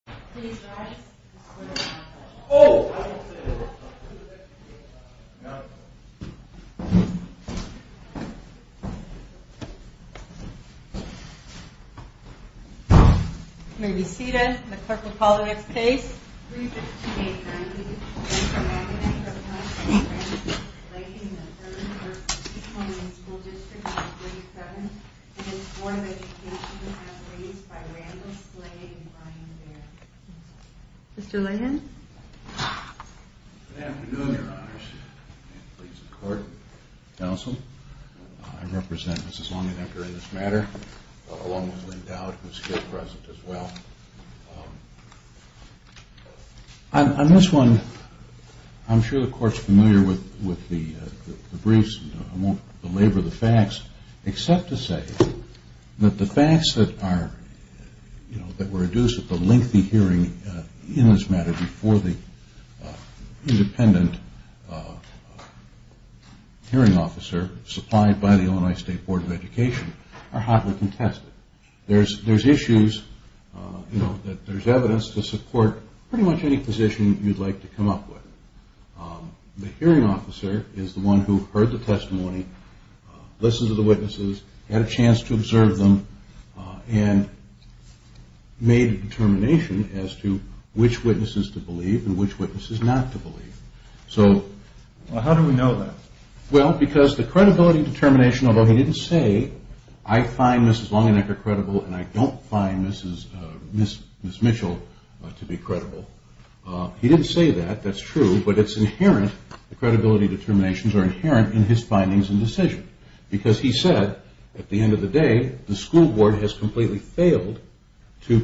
skinny trash? Maggie Pedus, be at the clerk of politics please Devimon taken advantage of the situation by behaving in a shock in regards to lagging that's part of the first 9 different high school districts 1227 and it's one that's listed as raised by Landers becomes Mr. Lyons Good afternoon your honors court, counsel I represent Mrs. Long and Edgar in this matter along with Lynn Dowd who is still present as well I'm just going I'm sure the court is familiar with the briefs, I won't belabor the facts except to say that the facts that are that were adduced at the lengthy hearing in this matter before the independent hearing officer supplied by the Illinois State Board of Education are hotly contested there's issues, there's evidence to support pretty much any position you'd like to come up with the hearing officer is the one who heard the testimony, listened to the witnesses had a chance to observe them and made a determination as to which witnesses to believe and which witnesses not to believe So, how do we know that? Well, because the credibility determination, although he didn't say I find Mrs. Long and Edgar credible and I don't find Mrs. Mitchell to be credible, he didn't say that, that's true but it's inherent, the credibility determinations are inherent in his findings and decisions, because he said at the end of the day, the school board has completely failed to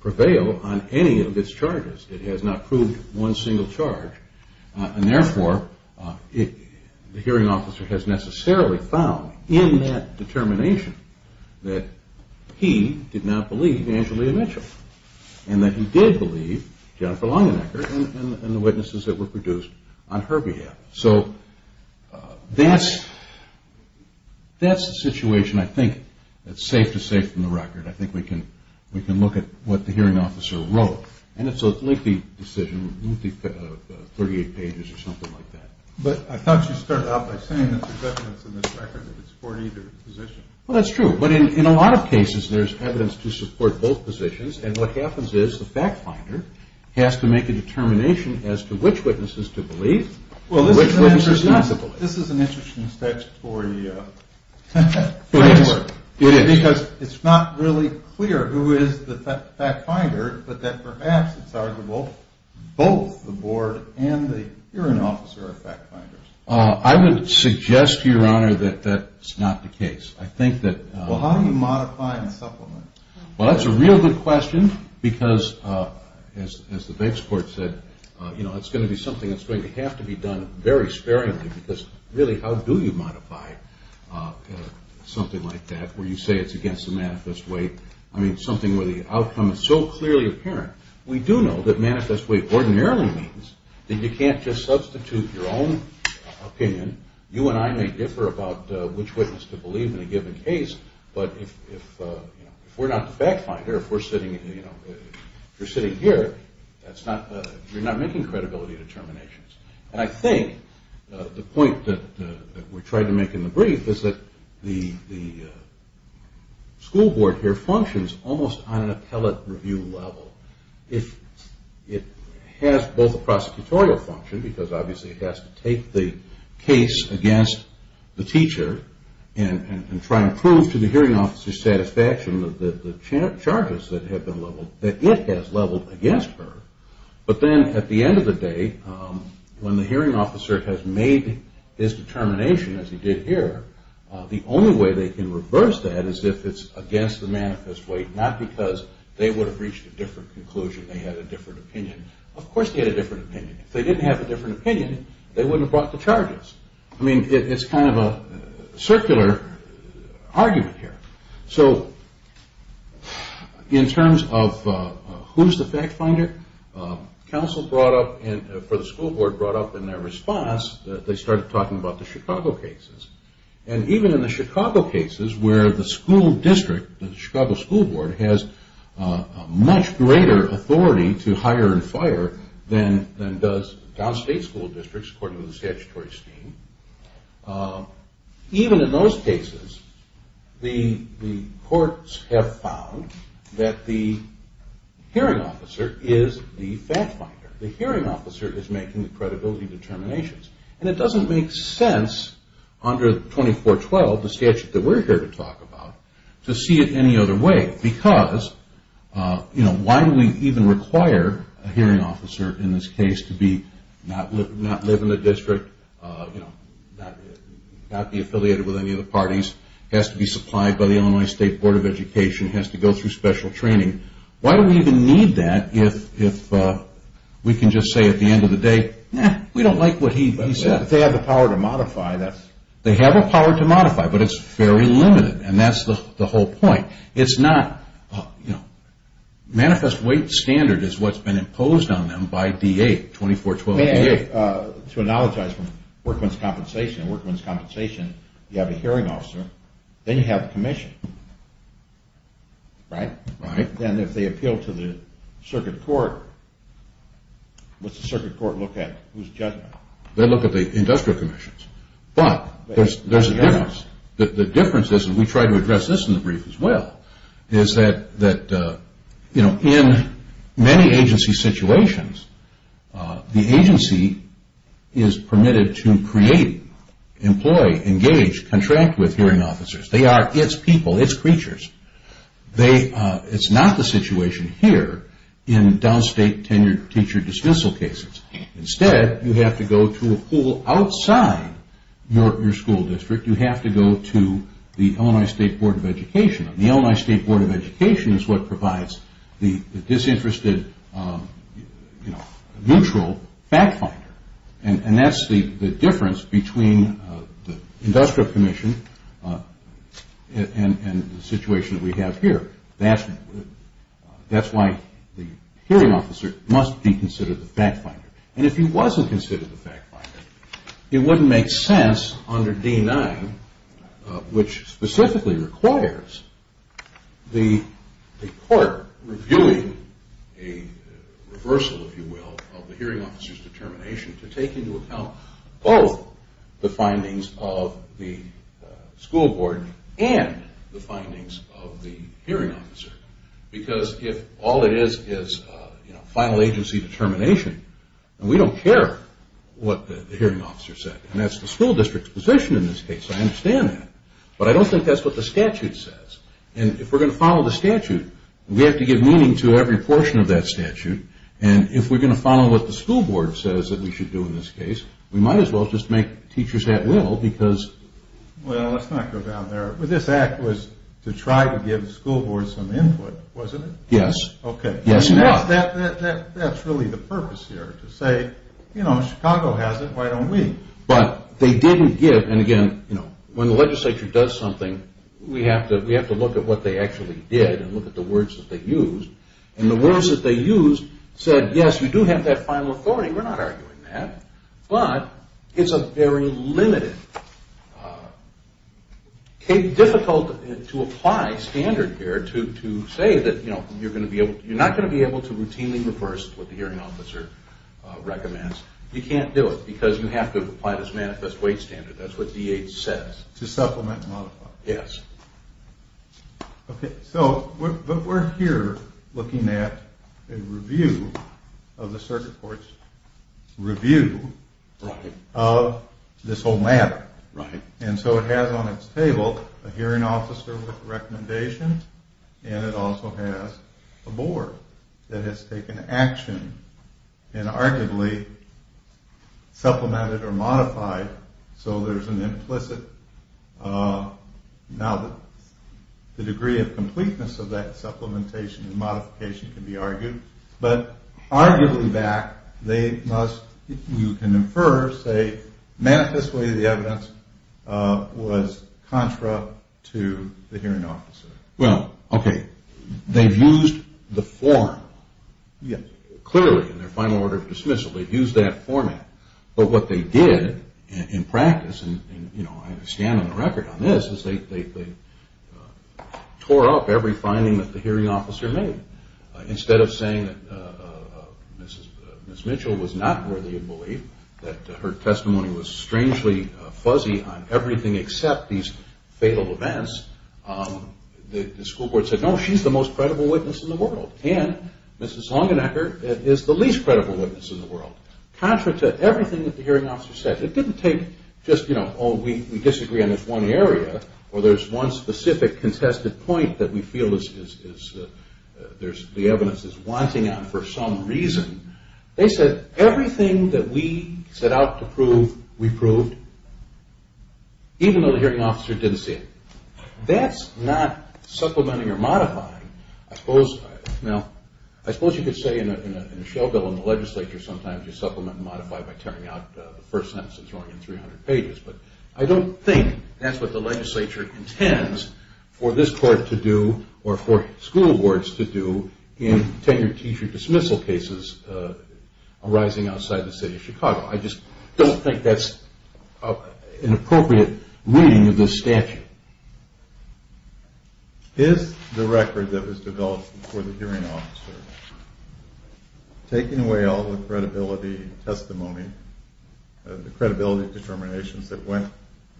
prevail on any of its charges, it has not proved one single charge, and therefore the hearing officer has necessarily found in that determination that he did not believe Angelina Mitchell and that he did believe Jennifer Long and Edgar and the witnesses that were produced on her behalf So, that's that's the situation I think that's safe to say from the record, I think we can look at what the hearing officer wrote, and it's a lengthy decision 38 pages or something like that But, I thought you started out by saying that there's evidence in this record that it's for either position. Well, that's true, but in a lot of cases there's evidence to support both positions and what the determination as to which witnesses to believe Well, this is an interesting for you because it's not really clear who is the fact finder, but that perhaps it's arguable both the board and the hearing officer are fact finders. I would suggest to your honor that that's not the case, I think that Well, how do you modify and supplement? Well, that's a real good question because, as the bench court said it's going to be something that's going to have to be done very sparingly, because really, how do you modify something like that where you say it's against the manifest way? I mean, something where the outcome is so clearly apparent. We do know that manifest way ordinarily means that you can't just substitute your own opinion. You and I may differ about which witnesses to believe in a given case, but we're not the fact finder if you're sitting here you're not making credibility determinations and I think the point that we're trying to make in the brief is that the school board here functions almost on a tele-review level it has both a prosecutorial function because obviously it has to take the case against the teacher and try to prove to the hearing officer's satisfaction that the charges that it has leveled against her but then at the end of the day when the hearing officer has made his determination as he did here, the only way they can reverse that is if it's against the manifest way, not because they would have reached a different conclusion, they had a different opinion of course they had a different opinion. If they didn't have a different opinion they wouldn't have brought the charges. I mean, it's kind of a circular argument here so, in terms of who's the fact finder counsel brought up, or the school board brought up in their response that they started talking about the Chicago cases and even in the Chicago cases where the school district, the Chicago school board has a much greater authority to hire and fire than does downstate school districts according to the statutory scheme even in those cases the courts have found that the hearing officer is the fact finder the hearing officer is making the credibility determinations and it doesn't make sense under 2412, the statute that we're here to talk about to see it any other way because why do we even require a hearing officer in this case to be not live in the district not be affiliated with any of the parties has to be supplied by the Illinois State Board of Education has to go through special training why do we even need that if we can just say at the end of the day we don't like what he said, they have the power to modify that they have the power to modify, but it's fairly limited and that's the whole point manifest weight standard is what's been imposed on them by 2412 to analogize from workman's compensation workman's compensation, you have a hearing officer they have commissions then if they appeal to the circuit court what's the circuit court look at they look at the industrial commissions but there's a difference we try to address this in the brief as well in many agency situations the agency is permitted to create employ, engage, contract with hearing officers they are its people, its creatures it's not the situation here in downstate tenure teacher dismissal cases instead you have to go to a pool outside your school district, you have to go to the Illinois State Board of Education the Illinois State Board of Education is what provides the disinterested, neutral back finder, and that's the difference between the industrial commission and the situation we have here that's why the hearing officer must be considered the back finder and if he wasn't considered the back finder it wouldn't make sense under D-9 which specifically requires the court reviewing a reversal if you will of the hearing officer's determination to take into account both the findings of the school board and the findings of the final agency determination we don't care what the hearing officer says and that's the school district's position in this case I understand that, but I don't think that's what the statute says and if we're going to follow the statute we have to give meaning to every portion of that statute and if we're going to follow what the school board says that we should do in this case we might as well just make teachers at will well, let's not go down there this act was to try to give the school board some input that's really the purpose here to say, you know, Chicago has it, why don't we? but they didn't give when the legislature does something we have to look at what they actually did and look at the words that they used and the words that they used said, yes, you do have that final authority and we're not arguing that but it's a very limited it's difficult to apply standard here to say that you're not going to be able to routinely reverse what the hearing officer recommends you can't do it because you have to apply this manifest weight standard that's what DH says to supplement and modify yes but we're here looking at a review of the circuit court's review of this whole matter and so it has on its table a hearing officer with recommendations and it also has a board that has taken action and arguably supplemented or modified so there's an implicit now the degree of completeness of that supplementation and modification can be argued but arguably back you can infer the manifest weight of the evidence was contra to the hearing officer well, ok, they used the form clearly in their final order of dismissal they used that format but what they did in practice they tore up every finding that the hearing officer made instead of saying that Ms. Mitchell was not really a bully that her testimony was strangely fuzzy on everything except these fatal events the school board said no, she's the most credible witness in the world and Ms. Longenecker is the least credible witness in the world contra to everything that the hearing officer said it didn't take just, you know, oh we disagree on this one area or there's one specific contested point that we feel the evidence is winding up for some reason they said everything that we set out to prove we proved even though the hearing officer didn't say it that's not supplementing or modifying I suppose you could say in a show bill in the legislature sometimes you supplement and modify by tearing out the first sentence I don't think that's what the legislature intends for this court to do or for school boards to do in tenure teacher dismissal cases arising outside the state of Chicago I just don't think that's an appropriate reading of this statute is the record that was developed for the hearing officer taking away all the credibility and testimony the credibility and determination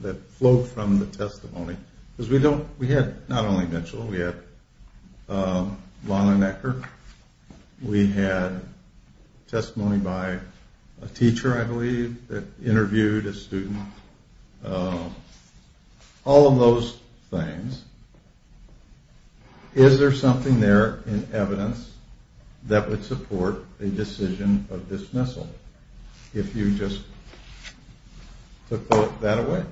that flowed from the testimony because we had not only Mitchell we had Longenecker we had testimony by a teacher I believe that interviewed a student all of those things is there something there in evidence that would support the decision of dismissal if you just put that away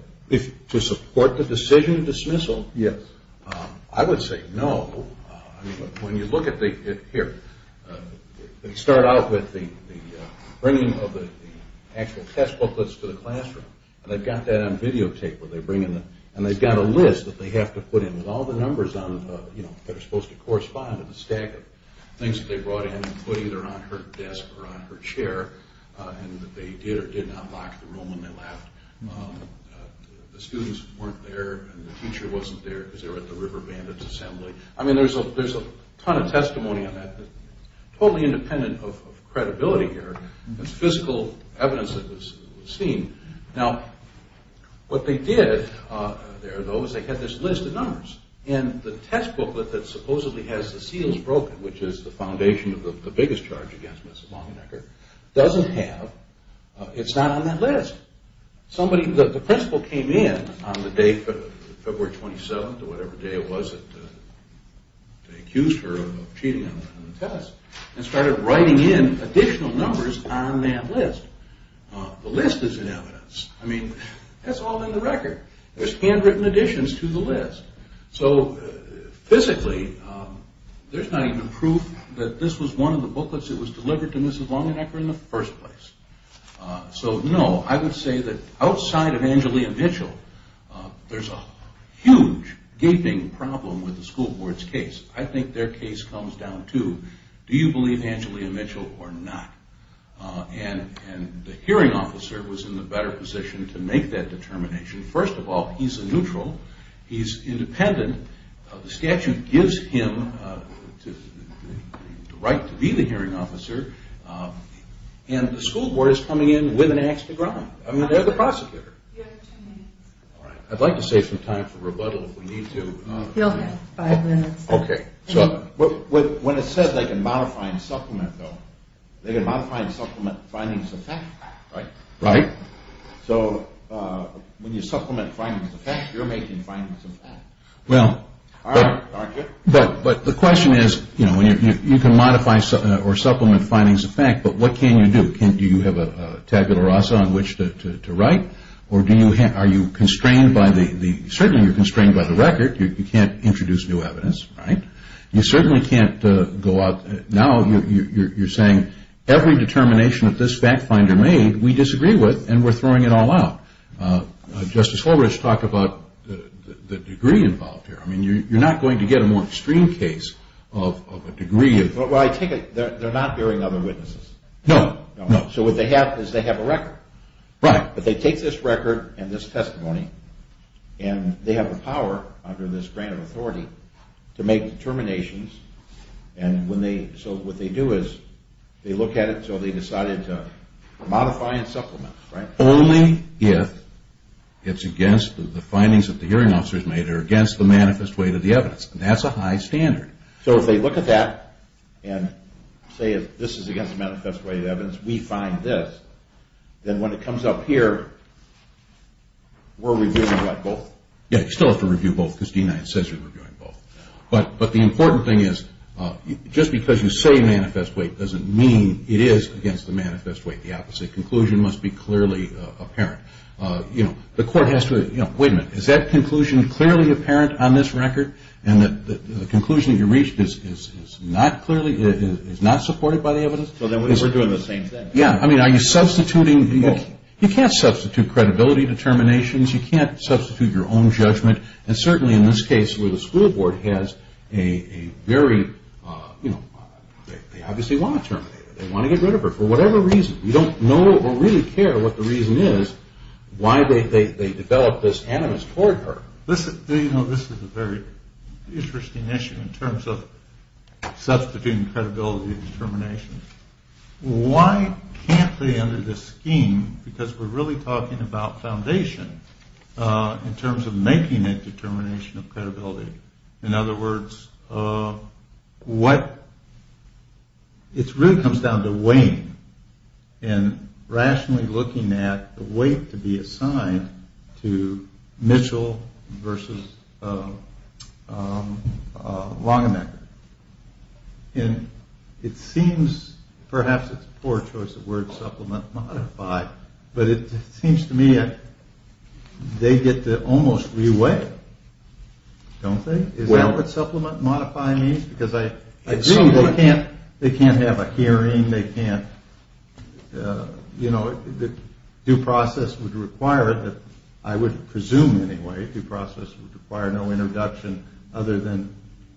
to support the decision of dismissal yes I would say no when you look at they start out with the bringing of the actual test booklets to the classroom and they've got that on videotape and they've got a list that they have to put in with all the numbers that are supposed to correspond with the stack of things that they brought in and put either on her desk or on her chair and they did or did not lock the room in the lab the students weren't there and the teacher wasn't there I mean there's a ton of testimony on that totally independent of credibility here it's physical evidence that was seen now what they did they had this list of numbers and the test booklet that supposedly has the seals broken which is the foundation of the biggest charge against Mrs. Longacre doesn't have, it's not on that list the principal came in on the day of February 27th or whatever day it was that she was accused of cheating on her and started writing in additional numbers on that list the list is in evidence that's all in the record there's handwritten additions to the list so physically there's not even proof that this was one of the booklets that was delivered to Mrs. Longacre in the first place so no, I would say that outside of Angelia Mitchell there's a huge gaping problem with the school board's case I think their case comes down to do you believe Angelia Mitchell or not and the hearing officer was in a better position to make that determination first of all, he's a neutral, he's independent the statute gives him the right to be the hearing officer and the school board is coming in with an axe to grind I mean, they're the prosecutor I'd like to save some time for rebuttal when it says they can modify and supplement they can modify and supplement findings of fact right so when you supplement findings of fact you're making findings of fact but the question is you can modify or supplement findings of fact but what can you do? do you have a tabula rasa on which to write or are you constrained by the certainly you're constrained by the record you can't introduce new evidence you certainly can't go out now you're saying every determination of this fact finder made we disagree with and we're throwing it all out Justice Horwich talked about the degree involved here you're not going to get a more extreme case of a degree of they're not hearing other witnesses so what they have is they have a record if they take this record and this testimony and they have the power under this grant of authority to make determinations so what they do is they look at it so they decided to modify and supplement only if it's against the findings that the hearing officers made are against the manifest weight of the evidence that's a high standard so if they look at that and say this is against the manifest weight of the evidence we find this then when it comes up here we're reviewing both but the important thing is just because you say manifest weight doesn't mean it is against the manifest weight the opposite conclusion must be clearly apparent the court has to is that conclusion clearly apparent on this record and the conclusion you reached is not supported by the evidence are you substituting you can't substitute credibility determinations you can't substitute your own judgment certainly in this case where the school board has they obviously want to terminate it they want to get rid of her for whatever reason you don't know or really care what the reason is why they developed this animus toward her this is a very interesting issue in terms of substituting credibility determinations why can't they enter this scheme because we're really talking about foundation in terms of making that determination of credibility in other words what it really comes down to weighing and rationally looking at the weight to be assigned to Mitchell versus Langevin and it seems perhaps it's a poor choice of words but it seems to me that they get to almost re-weight I don't think because I do they can't have a hearing due process would require I would presume anyway due process would require no introduction other than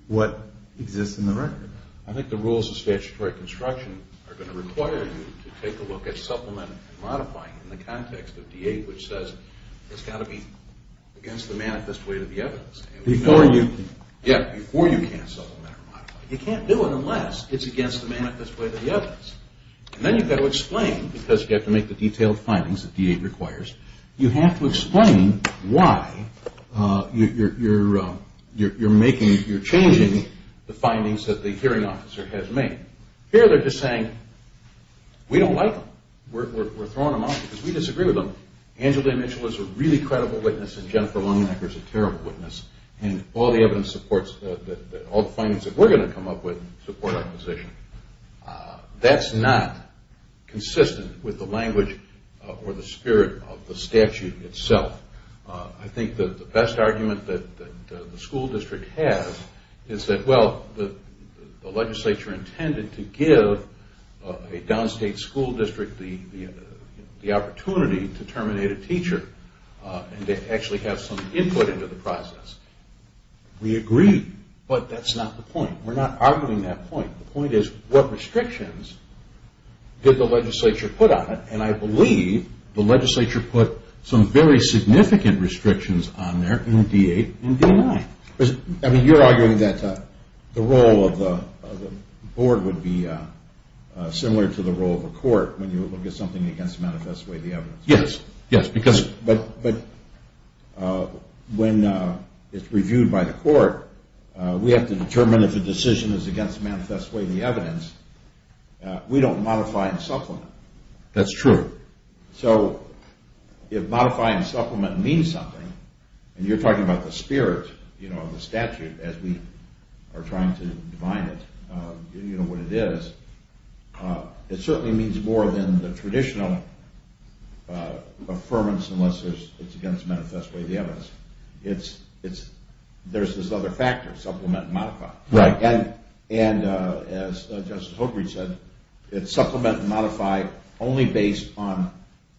what exists in the record I think the rules of statutory construction are going to require you to take a look at supplement and modify it in the context of D-8 which says it's got to be against the manifest weight of the evidence before you can't supplement or modify you can't do it unless it's against the manifest weight of the evidence and then you've got to explain because you have to make the detailed findings that D-8 requires you have to explain why you're changing the findings that the hearing officer has made here they're just saying we don't like them we're throwing them out because we disagree with them Angela and Mitchell is a really credible witness and Jennifer Langevin is a terrible witness and all the evidence supports that all the findings that we're going to come up with support our position that's not consistent with the language or the spirit of the statute itself I think the best argument that the school district has is that the legislature intended to give a downstate school district the opportunity to terminate a teacher and to actually have some input into the process we agree but that's not the point we're not arguing that point the point is what restrictions did the legislature put on it and I believe the legislature put some very significant restrictions on there in D-8 and D-9 you're arguing that the role of the board would be similar to the role of the court when you look at something against manifest way of the evidence yes, yes but when it's reviewed by the court we have to determine if the decision is against manifest way of the evidence we don't modify and supplement that's true so if modifying and supplementing means something and you're talking about the spirit the statute as we are trying to define it what it is it certainly means more than the traditional affirmance unless it's against manifest way of the evidence there's this other factor supplement and modify and as Justice Holkridge said supplement and modify only based on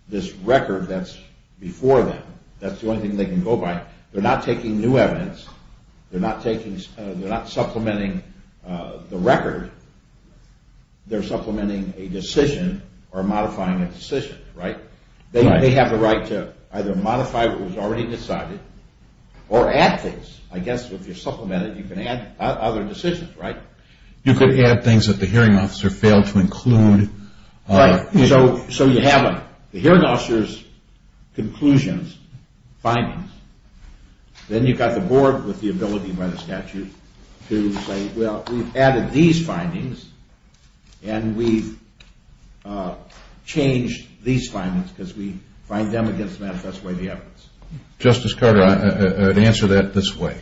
this record that's before them that's the only thing they can go by they're not taking new evidence they're not supplementing the record they're supplementing a decision or modifying a decision they have the right to either modify what was already decided or add things I guess if you're supplementing you can add other decisions you could add things that the hearing officer failed to include so you have the hearing officer's conclusions findings then you've got the board with the ability by the statute to say well we've added these findings and we've changed these findings because we find them against manifest way of the evidence Justice Carter I'd answer that this way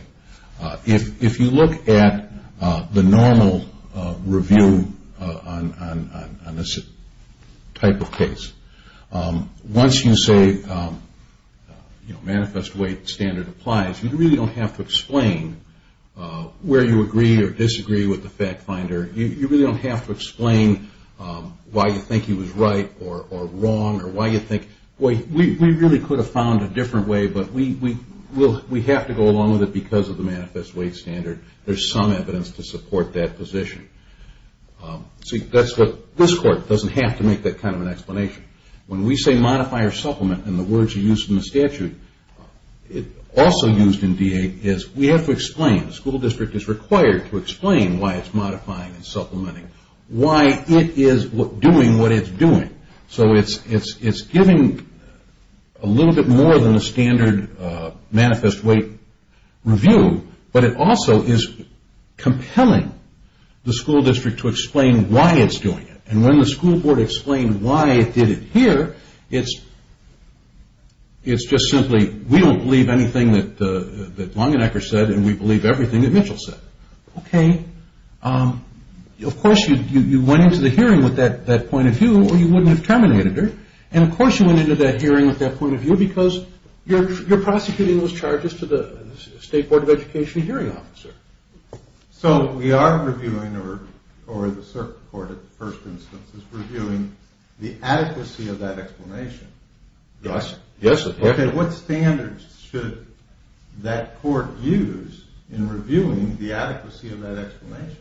if you look at the normal review on this type of case once you say manifest way standard applies you really don't have to explain where you agree or disagree with the fact finder you really don't have to explain why you think he was right or wrong or why you think we really could have found a different way but we have to go along with it because of the manifest way standard there's some evidence to support that position this court doesn't have to make that kind of explanation when we say modify or supplement in the words you used in the statute also used in VA is we have to explain school district is required to explain why it's modifying why it is doing what it's doing so it's giving a little bit more than the standard manifest way review but it also is compelling the school district to explain why it's doing it and when the school board explains why it did it here it's just simply we don't believe anything that Longenecker said and we believe everything that Mitchell said of course you went into the hearing with that point of view or you wouldn't have terminated it and of course you went into that hearing with that point of view because you're prosecuting those charges to the state board of education hearing officer so we are reviewing or the circuit court at first instance is reviewing the adequacy of that explanation and what standards should that court use in reviewing the adequacy of that explanation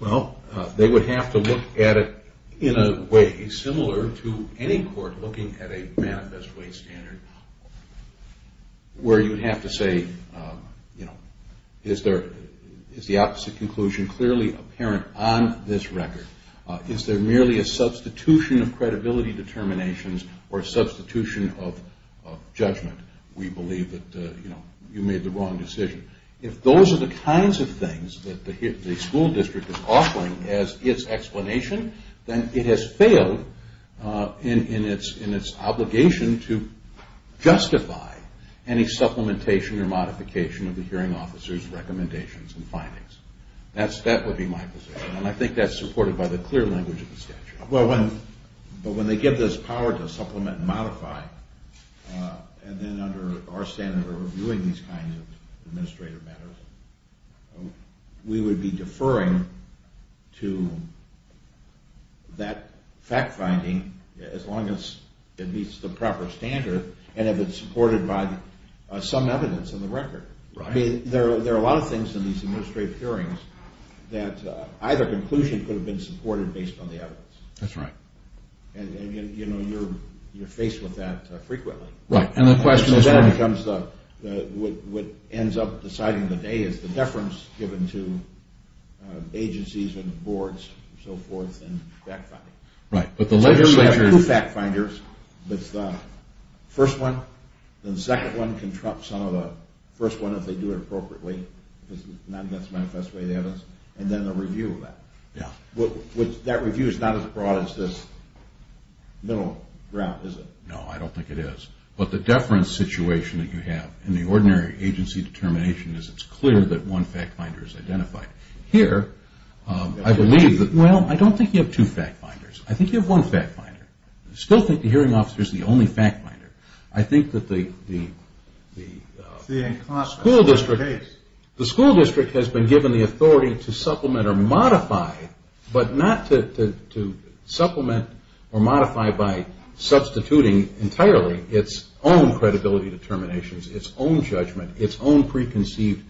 well they would have to look at it in a way similar to any court looking at a manifest way standard where you have to say is the opposite conclusion clearly apparent on this record is there merely a substitution of credibility determinations or a substitution of judgment we believe that you made the wrong decision if those are the kinds of things that the school district is offering as its explanation then it has failed in its obligation to justify any supplementation or modification of the hearing officers recommendations and findings that would be my position and I think that's supported by the clear language of the statute but when they get this power to supplement and modify and then under our standard of reviewing these kinds of administrative matters we would be deferring to that fact finding as long as it meets the proper standard and if it's supported by some evidence in the record there are a lot of things in these administrative hearings that either conclusion could have been supported based on the evidence that's right and you're faced with that frequently what ends up deciding the day is the deference given to agencies and boards and so forth and fact finders the first one first one if they do it appropriately because it's not against the manifesto and then the review of that that review is not as broad as this no, I don't think it is but the deference situation that you have in the ordinary agency determination is it's clear that one fact finder is identified here, I believe well, I don't think you have two fact finders I think you have one fact finder I still think the hearing officer is the only fact finder I think that the school district has been given the authority to supplement or modify but not to supplement or modify by substituting entirely its own credibility determinations, its own judgment its own preconceived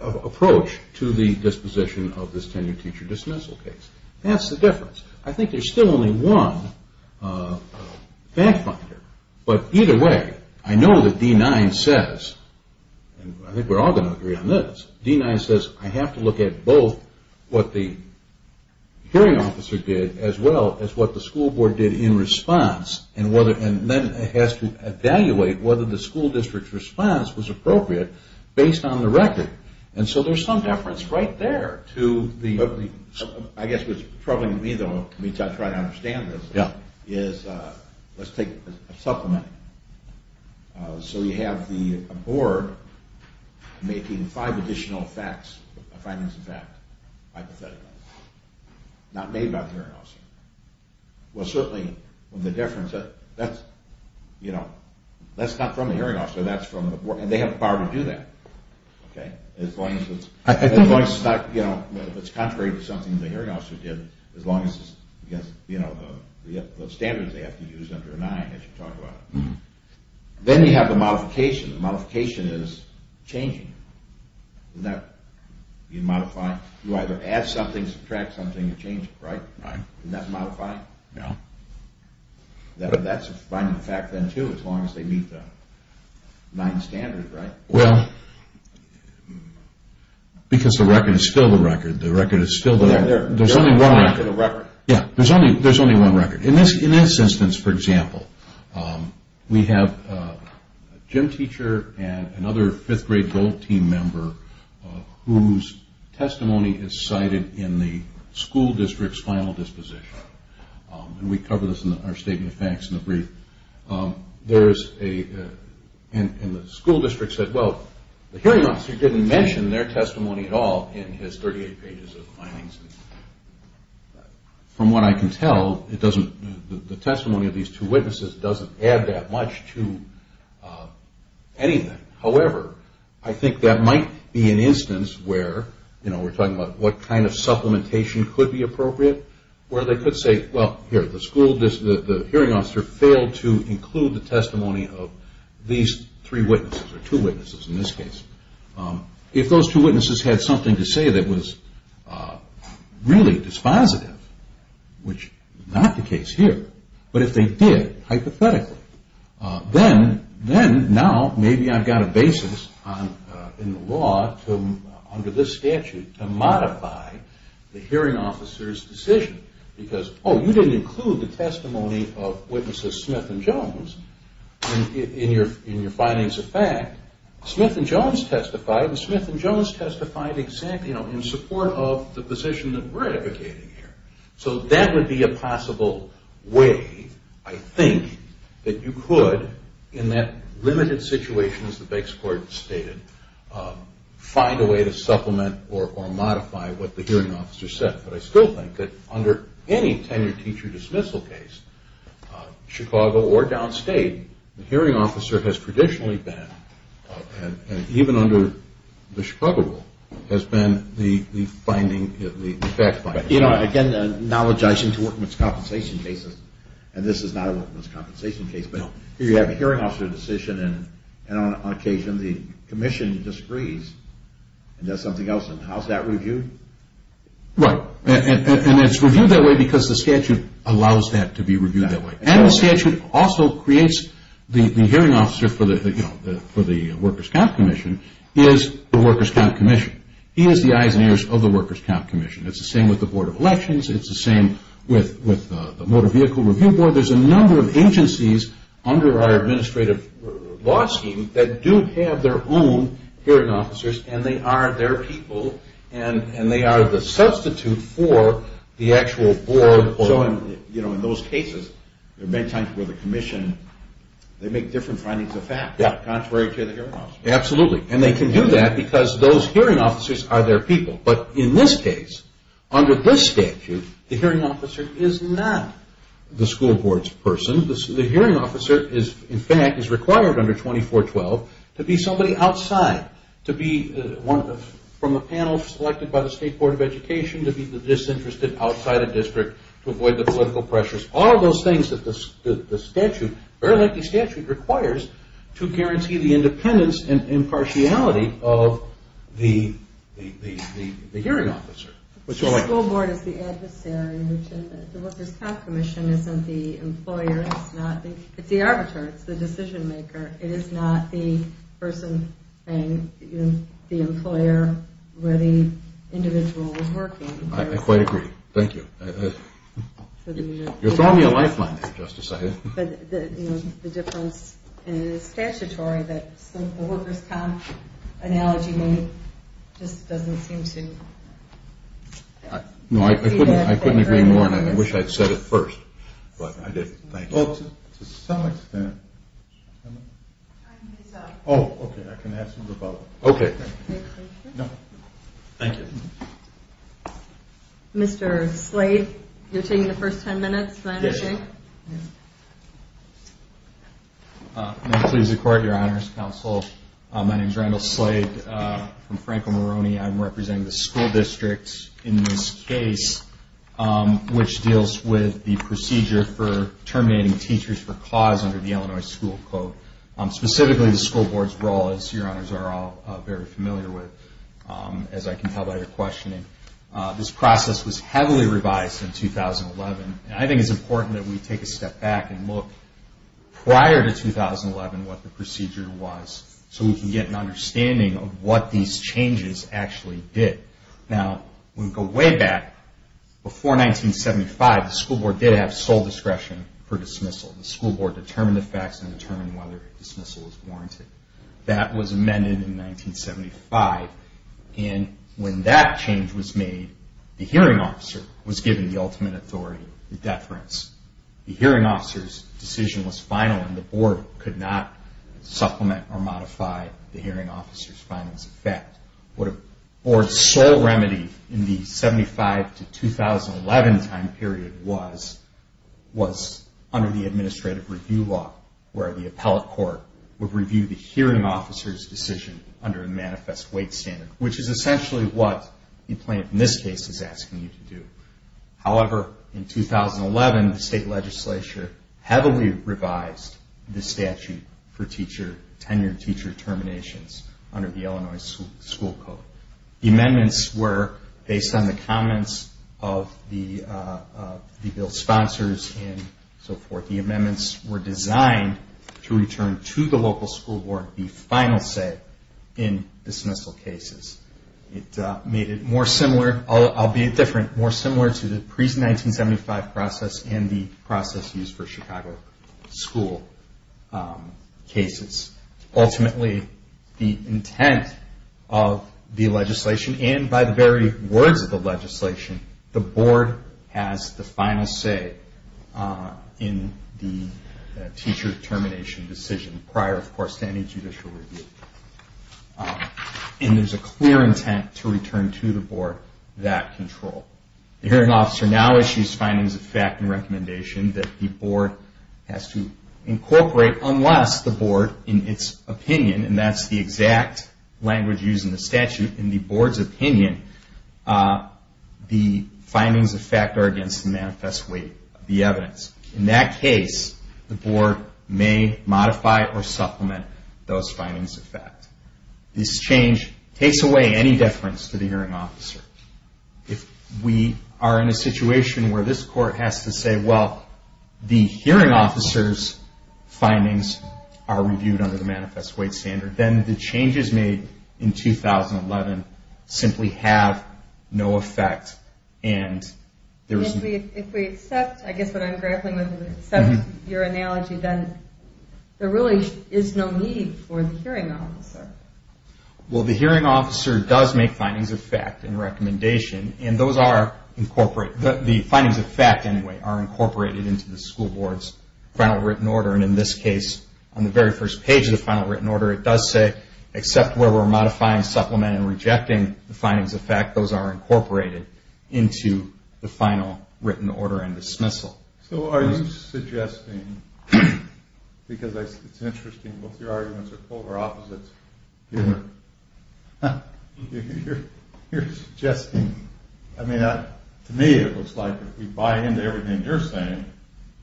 approach to the disposition of this there's still only one fact finder but either way, I know that D-9 says and I think we're all going to agree on this D-9 says I have to look at both what the hearing officer did as well as what the school board did in response and then it has to evaluate whether the school district's response was appropriate based on the record and so there's some deference right there to I guess what's troubling me though which I try to understand is let's take a supplement so you have the board making five additional facts, five minutes of facts hypothetical, not made by the hearing officer well certainly, the difference that's not from the hearing officer that's from the board, and they have the power to do that I think it's contrary to something the hearing officer did as long as the standards they have to use under D-9, as you talk about then you have the modification the modification is changing you modify, you either add something, subtract something or change it, right? Isn't that modifiable? that's a fine fact then too as long as they meet the D-9 standard well because the record is still the record there's only one record in this instance, for example we have a gym teacher and another 5th grade gold team member whose testimony is cited in the school district's final disposition and we cover this in our statement of facts in the brief there's a the school district said, well, the hearing officer didn't mention their testimony at all in his 38 pages of findings from what I can tell the testimony of these two witnesses doesn't add that much to anything however, I think that might be an instance where, you know, we're talking about what kind of supplementation could be appropriate, where they could say well, the school district, the hearing officer failed to include the testimony of these three witnesses or two witnesses in this case if those two witnesses had something to say that was really dispositive which is not the case here, but if they did hypothetically, then under this statute to modify the hearing officer's decision because, oh, you didn't include the testimony of witnesses Smith and Jones in your findings of fact Smith and Jones testified and Smith and Jones testified in support of the position that we're advocating here so that would be a possible way, I think that you could, in that limited situation as the base court stated find a way to supplement or modify what the hearing officer said, but I still think that under any tenured teacher dismissal case Chicago or downstate, the hearing officer has traditionally been, and even under the Chicago rule, has been the finding, the fact finding again, acknowledging workman's compensation cases and this is not a workman's compensation case but here you have a hearing officer decision and on occasion the commission disagrees and does something else, and how's that reviewed? Right, and it's reviewed that way because the statute allows that to be reviewed that way, and the statute also creates the hearing officer for the workers' comp commission is the workers' comp commission he is the eyes and ears of the workers' comp commission it's the same with the board of elections, it's the same with the motor vehicle review board, there's a number of agencies under our administrative law scheme that do have their own hearing officers, and they are their people, and they are the substitute for the actual board So in those cases, there have been times where the commission they make different findings of that contrary to the hearing officer Absolutely, and they can do that because those hearing officers are their people, but in this case under this statute, the hearing officer is not the school board's person, the hearing officer is in fact required under 2412 to be somebody outside, to be from a panel selected by the state board of education to be disinterested outside the district to avoid the political pressures, all of those things that the statute very likely requires to guarantee the independence and impartiality of the The school board is the adversary, the workers' comp commission isn't the employer, it's the arbiter, the decision maker, it is not the person, the employer where the individual is working I quite agree, thank you You're throwing me a lifeline here, just a second The difference in statutory that the workers' comp analogy I couldn't agree more I wish I'd said it first but I didn't, thank you Mr. Slade, you're taking the first 10 minutes Yes May I please record your honors, counsel My name is Randall Slade I'm representing the school district in this case which deals with the procedure for terminating teachers for cause under the Illinois School Code, specifically the school board's role as your honors are all very familiar with as I can tell by your questioning This process was heavily revised in 2011 I think it's important that we take a step back and look prior to 2011 what the procedure was so we can get an understanding of what these changes actually did Now, we go way back, before 1975 the school board did have sole discretion for dismissal The school board determined the facts and determined whether dismissal was warranted That was amended in 1975 and when that change was made the hearing officer was given the ultimate authority to deference The hearing officer's decision was final and the board could not supplement or modify the hearing officer's final What the board's sole remedy in the 75-2011 time period was was under the administrative review law where the appellate court would review the hearing officer's decision under a manifest wage standard which is essentially what the plaintiff in this case is asking you to do However, in 2011, the state legislature heavily revised the statute for tenured teacher terminations under the Illinois school code The amendments were based on the comments of the bill's sponsors and so forth The amendments were designed to return to the local school board the final say in dismissal cases It made it more similar albeit different, more similar to the pre-1975 process and the process used for Chicago school cases Ultimately, the intent of the legislation and by the very words of the legislation the board has the final say in the teacher termination decision prior, of course, to any judicial review and there's a clear intent to return to the board that control The hearing officer now issues findings of fact and recommendation that the board has to incorporate unless the board, in its opinion and that's the exact language used in the statute in the board's opinion the findings of fact are against the manifest wage the evidence In that case, the board may modify or supplement those findings of fact This change takes away any deference to the hearing officer If we are in a situation where this court has to say well, the hearing officer's findings are reviewed under the manifest wage standard then the changes made in 2011 simply have no effect If we accept I guess what I'm grappling with is if we accept your analogy then there really is no need for the hearing officer Well, the hearing officer does make findings of fact and recommendation and the findings of fact, anyway are incorporated into the school board's final written order and in this case, on the very first page of the final written order it does say, except where we're modifying, supplementing and rejecting the findings of fact, those are incorporated into the final written order and dismissal So are you suggesting because I think it's interesting both your arguments are polar opposites You're suggesting I mean, to me it looks like if we buy into everything you're saying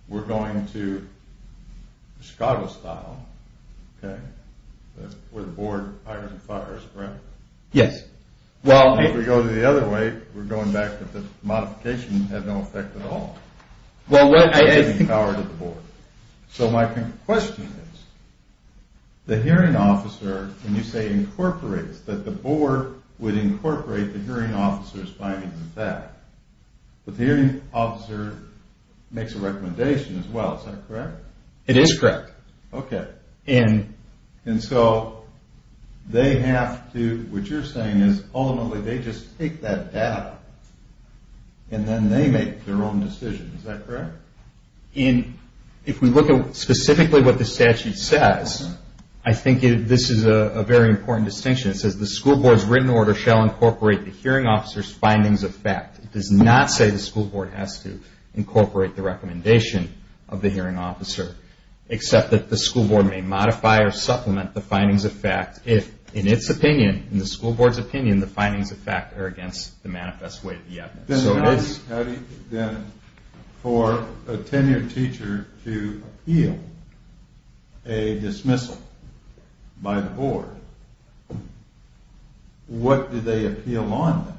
we're going to Scotland style where the board fires and fires, correct? Well, if we go the other way we're going back to the modification has no effect at all So my question is the hearing officer when you say incorporate that the board would incorporate the hearing officer's findings of fact the hearing officer makes a recommendation as well Is that correct? It is correct And so they have to, what you're saying is ultimately they just take that back and then they make their own decision, is that correct? If we look at specifically what the statute says I think this is a very important distinction It says the school board's written order shall incorporate the hearing officer's findings of fact It does not say the school board has to incorporate the recommendation of the hearing officer except that the school board may modify or supplement the findings of fact if in its opinion, in the school board's opinion the findings of fact are against the manifest way of the evidence Then for a tenured teacher to appeal a dismissal by the board What do they appeal on?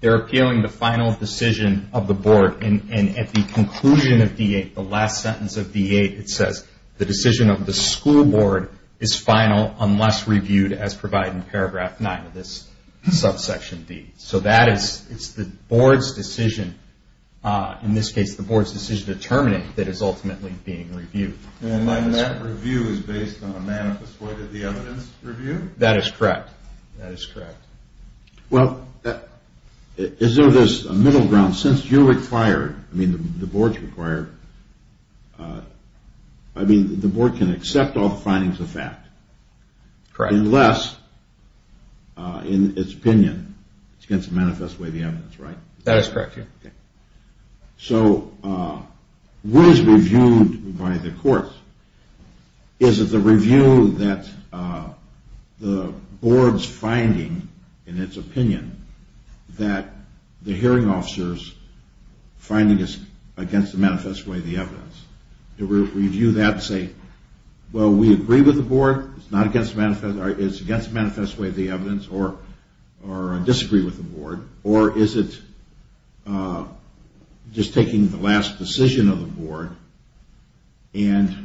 They're appealing the final decision of the board and at the conclusion of D8, the last sentence of D8 it says the decision of the school board is final unless reviewed as provided in paragraph 9 of this subsection B So that is the board's decision in this case the board's decision to terminate that is ultimately being reviewed And when that review is based on a manifest way That is correct Well, is there a middle ground since you're required, I mean the board's required I mean the board can accept all findings of fact unless in its opinion it's against the manifest way of the evidence, right? That is correct So what is reviewed by the courts is the review that the board's finding in its opinion that the hearing officer's finding is against the manifest way of the evidence To review that and say well, we agree with the board, it's not against the manifest way it's against the manifest way of the evidence or disagree with the board or is it just taking the last decision of the board and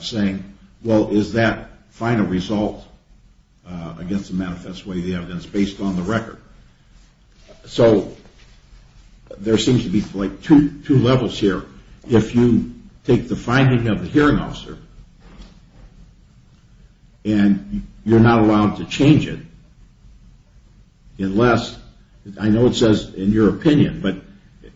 saying well, is that final result against the manifest way of the evidence based on the record So, there seems to be like two levels here If you take the finding of the hearing officer and you're not allowed to change it unless I know it says in your opinion but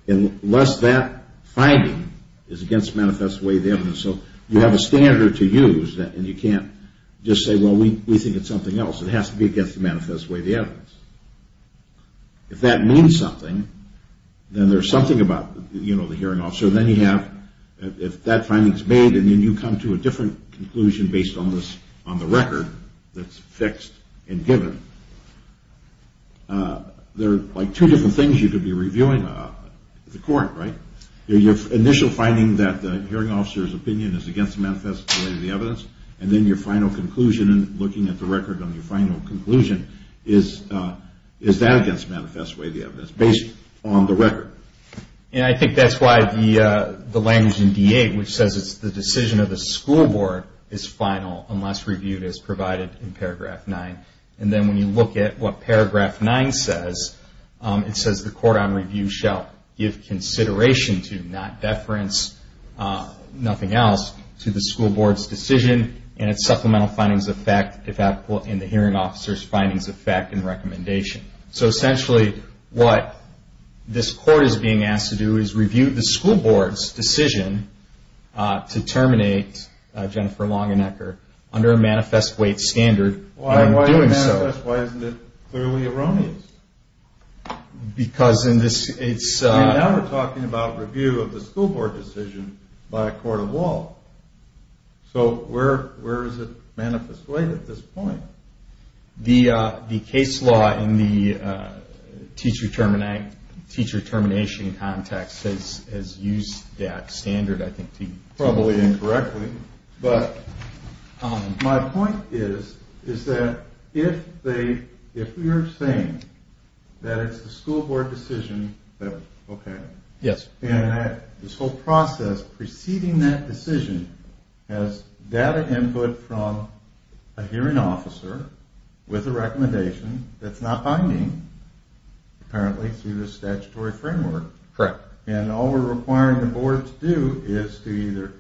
unless that finding is against the manifest way of the evidence So, you have a standard to use and you can't just say, well, we think it's something else It has to be against the manifest way of the evidence If that means something, then there's something about the hearing officer If that finding's made, then you come to a different conclusion based on the record that's fixed and given There are like two different things you could be reviewing with the court, right? Your initial finding that the hearing officer's opinion is against the manifest way of the evidence and then your final conclusion looking at the record on your final conclusion is that against the manifest way of the evidence based on the record And I think that's why the language in D-8 which says the decision of the school board is final unless reviewed as provided in paragraph 9 And then when you look at what paragraph 9 says it says the court on review shall give consideration to not deference nothing else to the school board's decision and its supplemental findings of fact and the hearing officer's findings of fact and recommendation So essentially, what this court is being asked to do is review the school board's decision to terminate Jennifer Longenecker under a manifest way standard Why isn't it clearly erroneous? Because in this case Now we're talking about review of a school board decision by a court of law So where is it manifest way at this point? The case law in the teacher termination I'm not seeing time tax as used as standard I think My point is that if we are saying that it's the school board decision and that this whole process preceding that decision has data input from a hearing officer with a recommendation that's not binding apparently to the statutory framework then all we're requiring the board to do is to either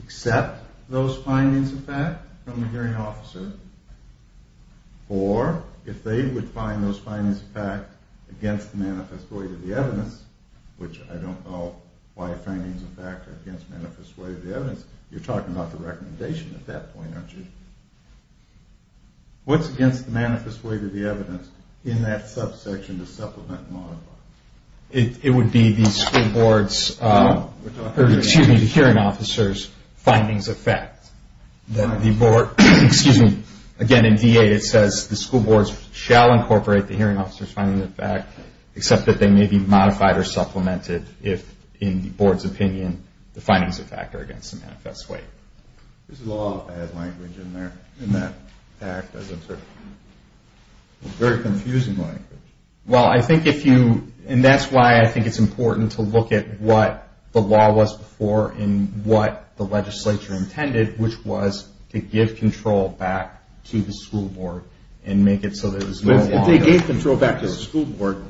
accept those findings of fact from the hearing officer or if they would find those findings of fact against the manifest way to the evidence which I don't know why findings of fact are against the manifest way to the evidence You're talking about the recommendation at that point aren't you? What's against the manifest way to the evidence in that subsection to supplement and modify? It would be the school board's excuse me, the hearing officer's findings of fact Again in VA it says the school board shall incorporate the hearing officer's findings of fact except that they may be modified or supplemented if in the board's opinion the findings of fact are against the manifest way There's a lot of bad language in there in that act as it's a very confusing language and that's why I think it's important to look at what the law was before and what the legislature intended which was to give control back to the school board If they gave control back to the school board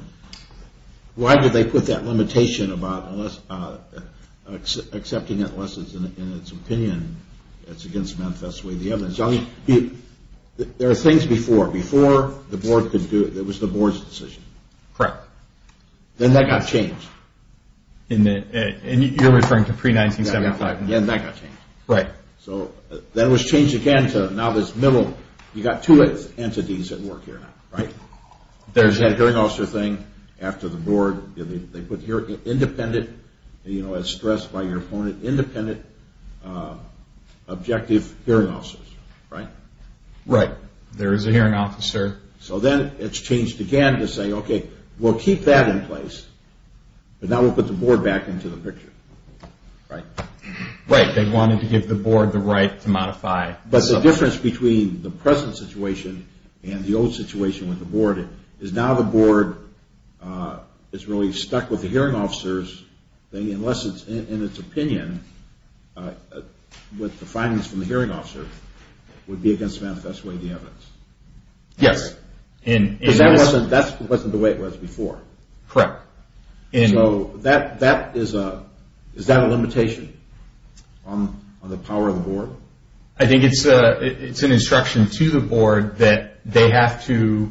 why did they put that limitation accepting that unless it's in its opinion it's against the manifest way to the evidence There are things before. Before the board could do it, it was the board's decision Then that got changed You're referring to pre-1975 Then that got changed. So that was changed again to now this middle, you've got two entities that work here There's that hearing officer thing After the board, they put independent as stressed by your opponent, independent objective hearing officers Right. There is a hearing officer So then it's changed again to say okay we'll keep that in place and now we'll put the board back into the picture They wanted to give the board the right to modify But the difference between the present situation and the old situation with the board is now the board is really stuck with the hearing officers unless it's in its opinion with the findings from the hearing officers would be against the manifest way to the evidence That wasn't the way it was before Correct Is that a limitation on the power of the board? I think it's an instruction to the board that they have to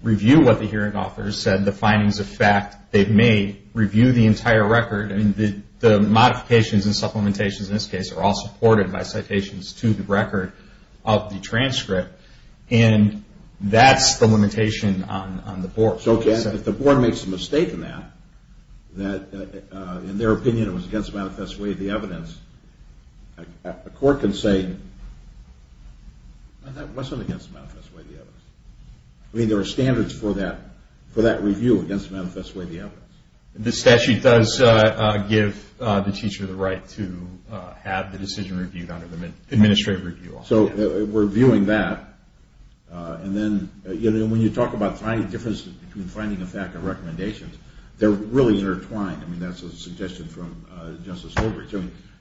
review what the hearing officers said the findings of fact they've made Review the entire record The modifications and supplementations in this case are all supported by citations to the record of the transcript And that's the limitation on the board So if the board makes a mistake now that in their opinion it was against the manifest way to the evidence the court can say that wasn't against the manifest way to the evidence I mean there are standards for that review against the manifest way to the evidence This actually does give the teacher the right to have the decision reviewed under the administrative review So we're viewing that and when you talk about finding the fact of recommendations they're really intertwined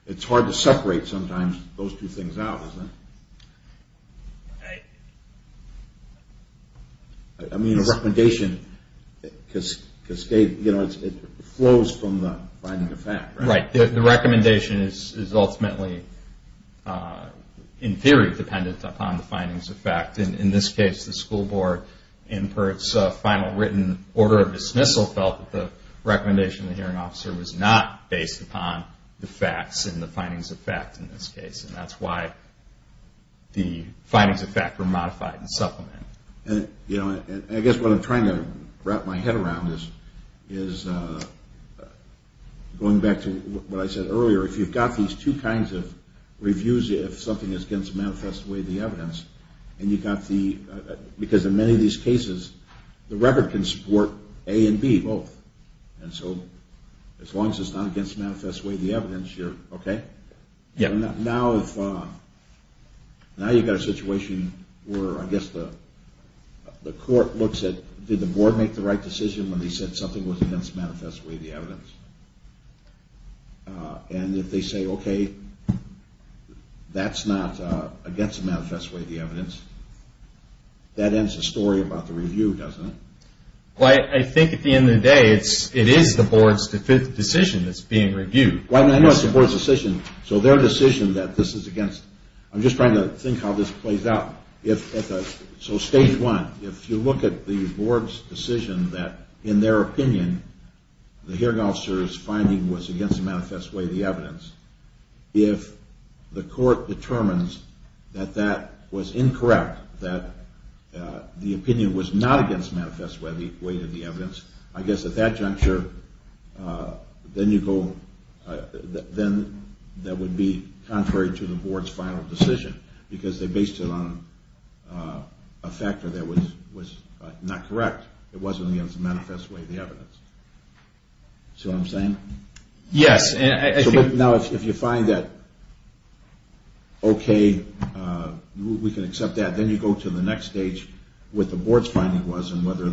It's hard to separate sometimes those two things out I mean a recommendation flows from the finding of fact Right The recommendation is ultimately in theory dependent upon the findings of fact In this case the school board and for its final written order of dismissal felt that the recommendation of the hearing officer was not based upon the facts and the findings of fact in this case and that's why the findings of fact were modified and supplemented I guess what I'm trying to wrap my head around is going back to what I said earlier If you've got these two kinds of reviews if something is against the manifest way to the evidence because in many of these cases the record can support A and B both and so as long as it's not against the manifest way to the evidence you're okay Now you've got a situation where I guess the court looks at did the board make the right decision when they said something was against the manifest way to the evidence and if they say okay that's not against the manifest way to the evidence that ends the story about the review doesn't it I think at the end of the day it is the board's decision that's being reviewed So their decision that this is against I'm just trying to think how this plays out So stage one, if you look at the board's decision that in their opinion the hearing officer's finding was against the manifest way to the evidence if the court determines that that was incorrect that the opinion was not against the manifest way to the evidence I guess at that juncture then you go that would be contrary to the board's final decision because they based it on a factor that was not correct it wasn't against the manifest way to the evidence See what I'm saying? Now if you find that okay we can accept that then you go to the next stage with the board's finding whether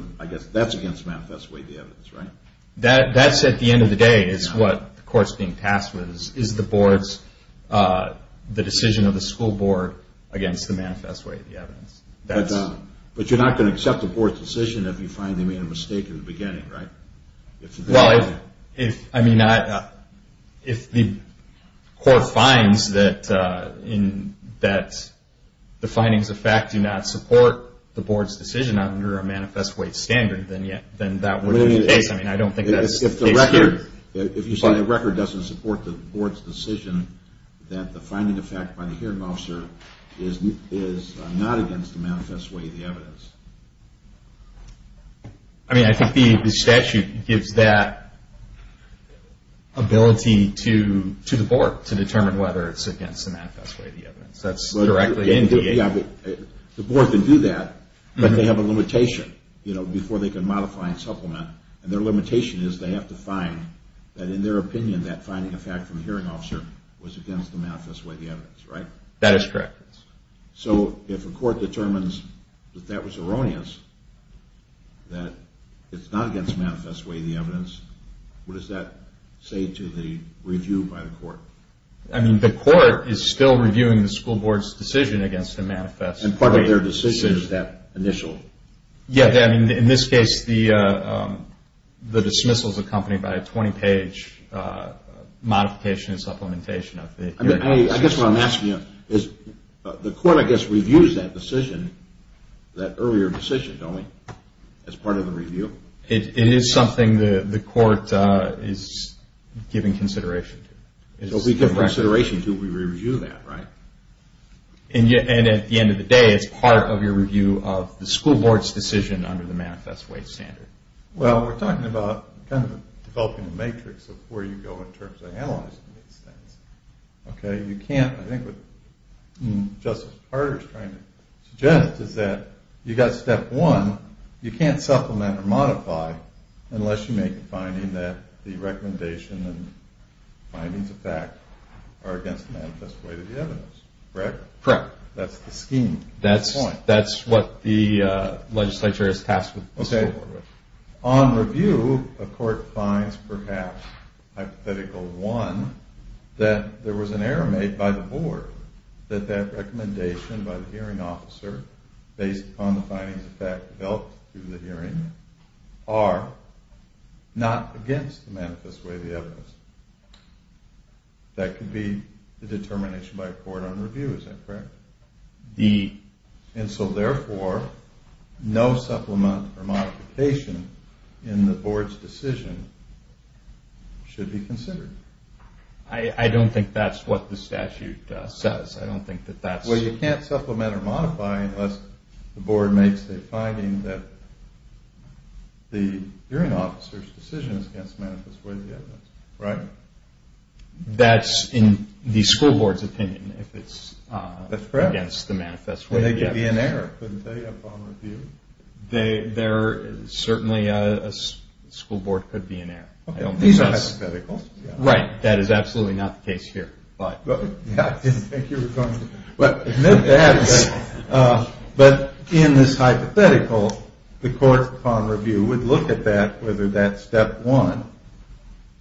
that's against the manifest way to the evidence That's at the end of the day is what the court's being tasked with is the board's the decision of the school board against the manifest way to the evidence But you're not going to accept the board's decision if you find they made a mistake in the beginning, right? Well if if the court finds that that the findings of fact do not support the board's decision under a manifest way standard then that would be the case If the record doesn't support the board's decision that the finding of fact by the hearing officer is not against the manifest way to the evidence I mean I think the statute gives that ability to the board to determine whether it's against the manifest way to the evidence The board can do that but they have a limitation before they can modify and supplement and their limitation is they have to find that in their opinion that finding of fact from the hearing officer was against the manifest way to the evidence, right? That is correct So if the court determines that that was erroneous that it's not against the manifest way to the evidence what does that say to the review by the court? I mean the court is still reviewing the school board's decision against the manifest way to the evidence It's important that their decision is that initial Yeah, in this case the dismissal is accompanied by a 20 page modification and supplementation of the I guess what I'm asking you is the court I guess reviews that decision that earlier decision, don't it, as part of the review? It is something that the court is giving consideration to We give consideration to it when we review that, right? And at the end of the day it's part of your review of the school board's decision under the manifest way standard Well, we're talking about developing a matrix of where you go in terms of analyzing Okay, you can't I think what Justice Carter is trying to suggest is that you've got step one, you can't supplement or modify unless you make the finding that the recommendation and findings of fact are against the manifest way to the evidence, right? Correct. That's the scheme That's what the legislature has tasked with On review, the court finds perhaps hypothetical one that there was an error made by the board that that recommendation by the hearing officer based on the findings of fact developed through the hearing are not against the manifest way to the evidence That could be the determination by a court on review is that correct? And so therefore, no supplement or modification in the board's decision should be considered I don't think that's what the statute says Well, you can't supplement or modify unless the board makes a finding that the hearing officer's decision is against the manifest way to the evidence, right? That's in the school board's opinion if it's against the manifest way to the evidence Would it be an error? Certainly, a school board could be an error These are hypothetical That is absolutely not the case here I didn't think you were coming But in this hypothetical the court on review would look at that whether that step one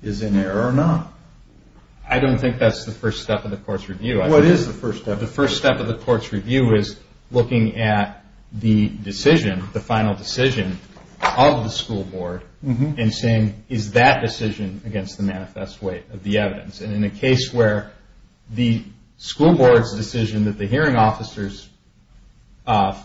is an error or not I don't think that's the first step of the court's review What is the first step? The first step of the court's review is looking at the decision the final decision of the school board and saying is that decision against the manifest way of the evidence And in a case where the school board's decision that the hearing officer's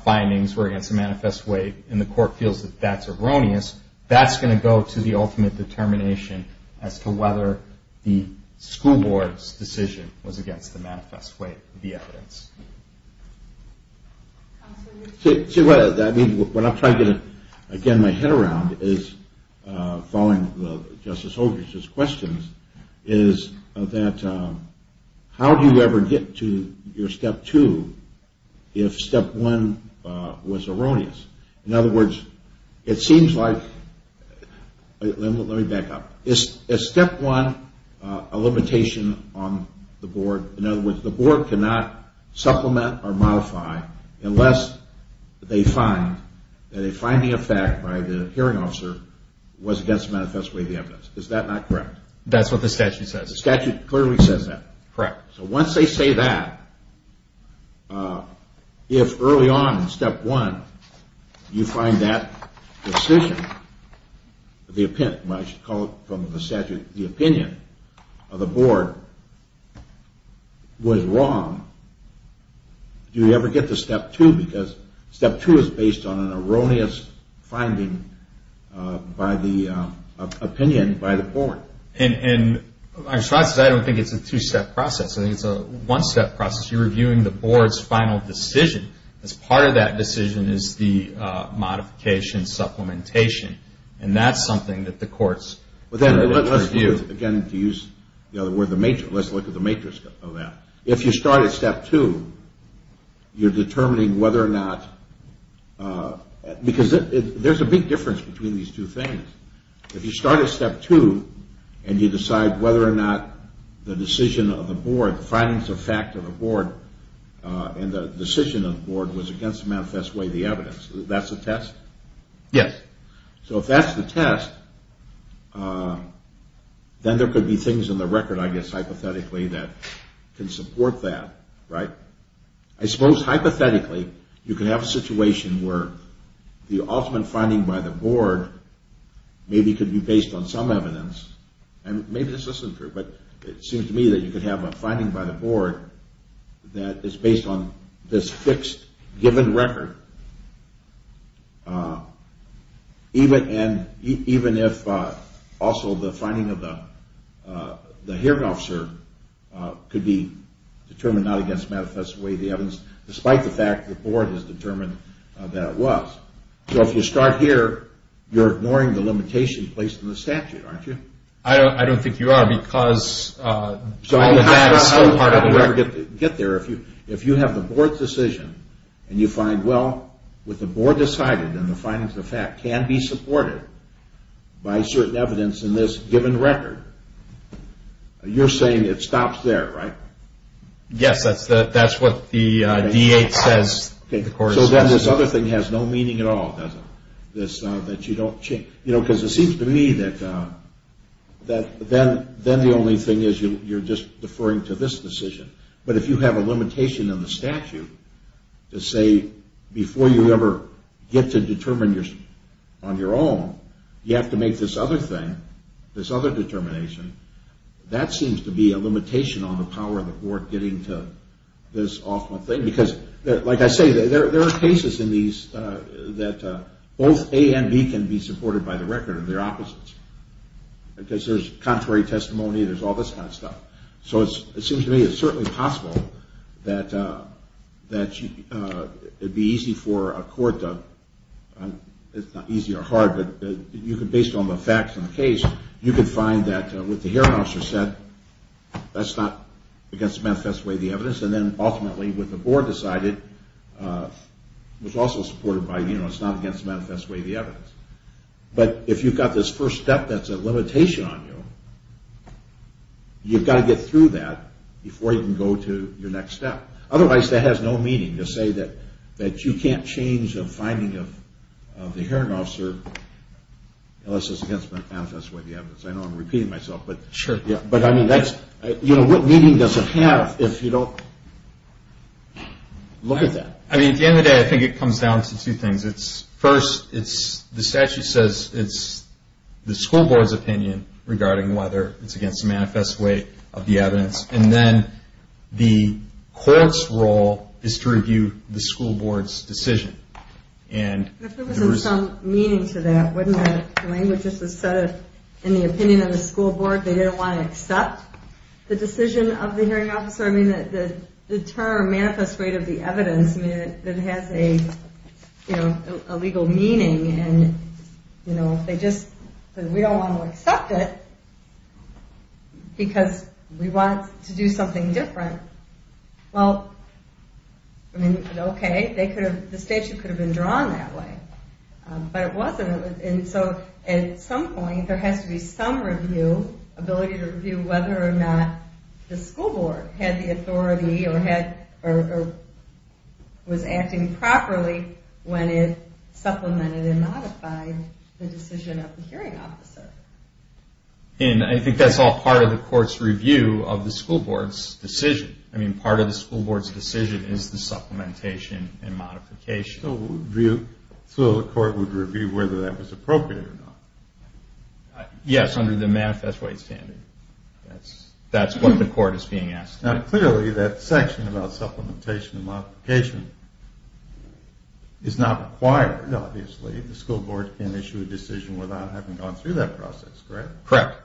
findings were against the manifest way and the court feels that that's erroneous that's going to go to the ultimate determination as to whether the school board's decision was against the manifest way to the evidence What I'm trying to get my head around following Justice Hodges' questions is that how do you ever get to your step two if step one was erroneous In other words, it seems like Let me back up Is step one a limitation on the board In other words, the board cannot supplement or modify unless they find that a finding of fact by the hearing officer was against the manifest way of the evidence Is that not correct? Correct So once they say that if early on in step one you find that decision the opinion of the board was wrong Do you ever get to step two because step two is based on an erroneous finding by the opinion by the board I don't think it's a two-step process I think it's a one-step process You're reviewing the board's final decision Part of that decision is the modification, supplementation And that's something that the courts Let's look at the matrix of that If you start at step two you're determining whether or not because there's a big difference between these two things If you start at step two and you decide whether or not the decision of the board the findings of fact of the board and the decision of the board was against the manifest way of the evidence That's a test? Yes So if that's the test then there could be things in the record hypothetically that can support that I suppose hypothetically you could have a situation where the ultimate finding by the board maybe could be based on some evidence It seems to me that you could have a finding by the board that is based on this fixed given record Even if also the finding of the hearing officer could be determined not against the manifest way of the evidence despite the fact that the board has determined that it was So if you start here you're ignoring the limitations placed on the statute, aren't you? I don't think you are because It's so hard to get there If you have the board's decision and you find well, with the board deciding that the findings of fact can be supported by certain evidence in this given record you're saying it stops there, right? Yes, but that's what the DA says So then this other thing has no meaning at all, does it? That you don't change Because it seems to me that then the only thing is you're just deferring to this decision But if you have a limitation on the statute to say before you ever get to determine on your own you have to make this other thing, this other determination that seems to be a limitation on the power of the board getting to this awful thing Because, like I say, there are cases in these that both A and B can be supported by the record Because there's contrary testimony, there's all this kind of stuff So it seems to me it's certainly possible that it'd be easy for a court it's not easy or hard but based on the facts in the case you can find that what the hearing officer said that's not against the manifest way of the evidence and then ultimately when the board decided it was also supported by, you know, it's not against the manifest way of the evidence But if you've got this first step that's a limitation on you you've got to get through that before you can go to your next step Otherwise that has no meaning to say that you can't change the finding of the hearing officer unless it's against the manifest way of the evidence I know I'm repeating myself But I mean, what meaning does it have if you don't look at that? I mean, at the end of the day, I think it comes down to two things First, the statute says it's the school board's opinion regarding whether it's against the manifest way of the evidence and then the court's role is to review the school board's decision If there was some meaning to that wouldn't the language just have said in the opinion of the school board they didn't want to accept the decision of the hearing officer I mean, the term manifest way of the evidence doesn't have a legal meaning and, you know, if they just said we don't want to accept it because we want to do something different well, I mean, okay the statute could have been drawn that way but it wasn't and so at some point there has to be some review ability to review whether or not the school board had the authority or was acting properly when it supplemented and modified the decision of the hearing officer And I think that's all part of the court's review of the school board's decision I mean, part of the school board's decision is the supplementation and modification So the court would review whether that was appropriate or not Yes, under the manifest way standard That's what the court is being asked to do Now clearly that section about supplementation and modification is not required, obviously The school board can issue a decision without having gone through that process Correct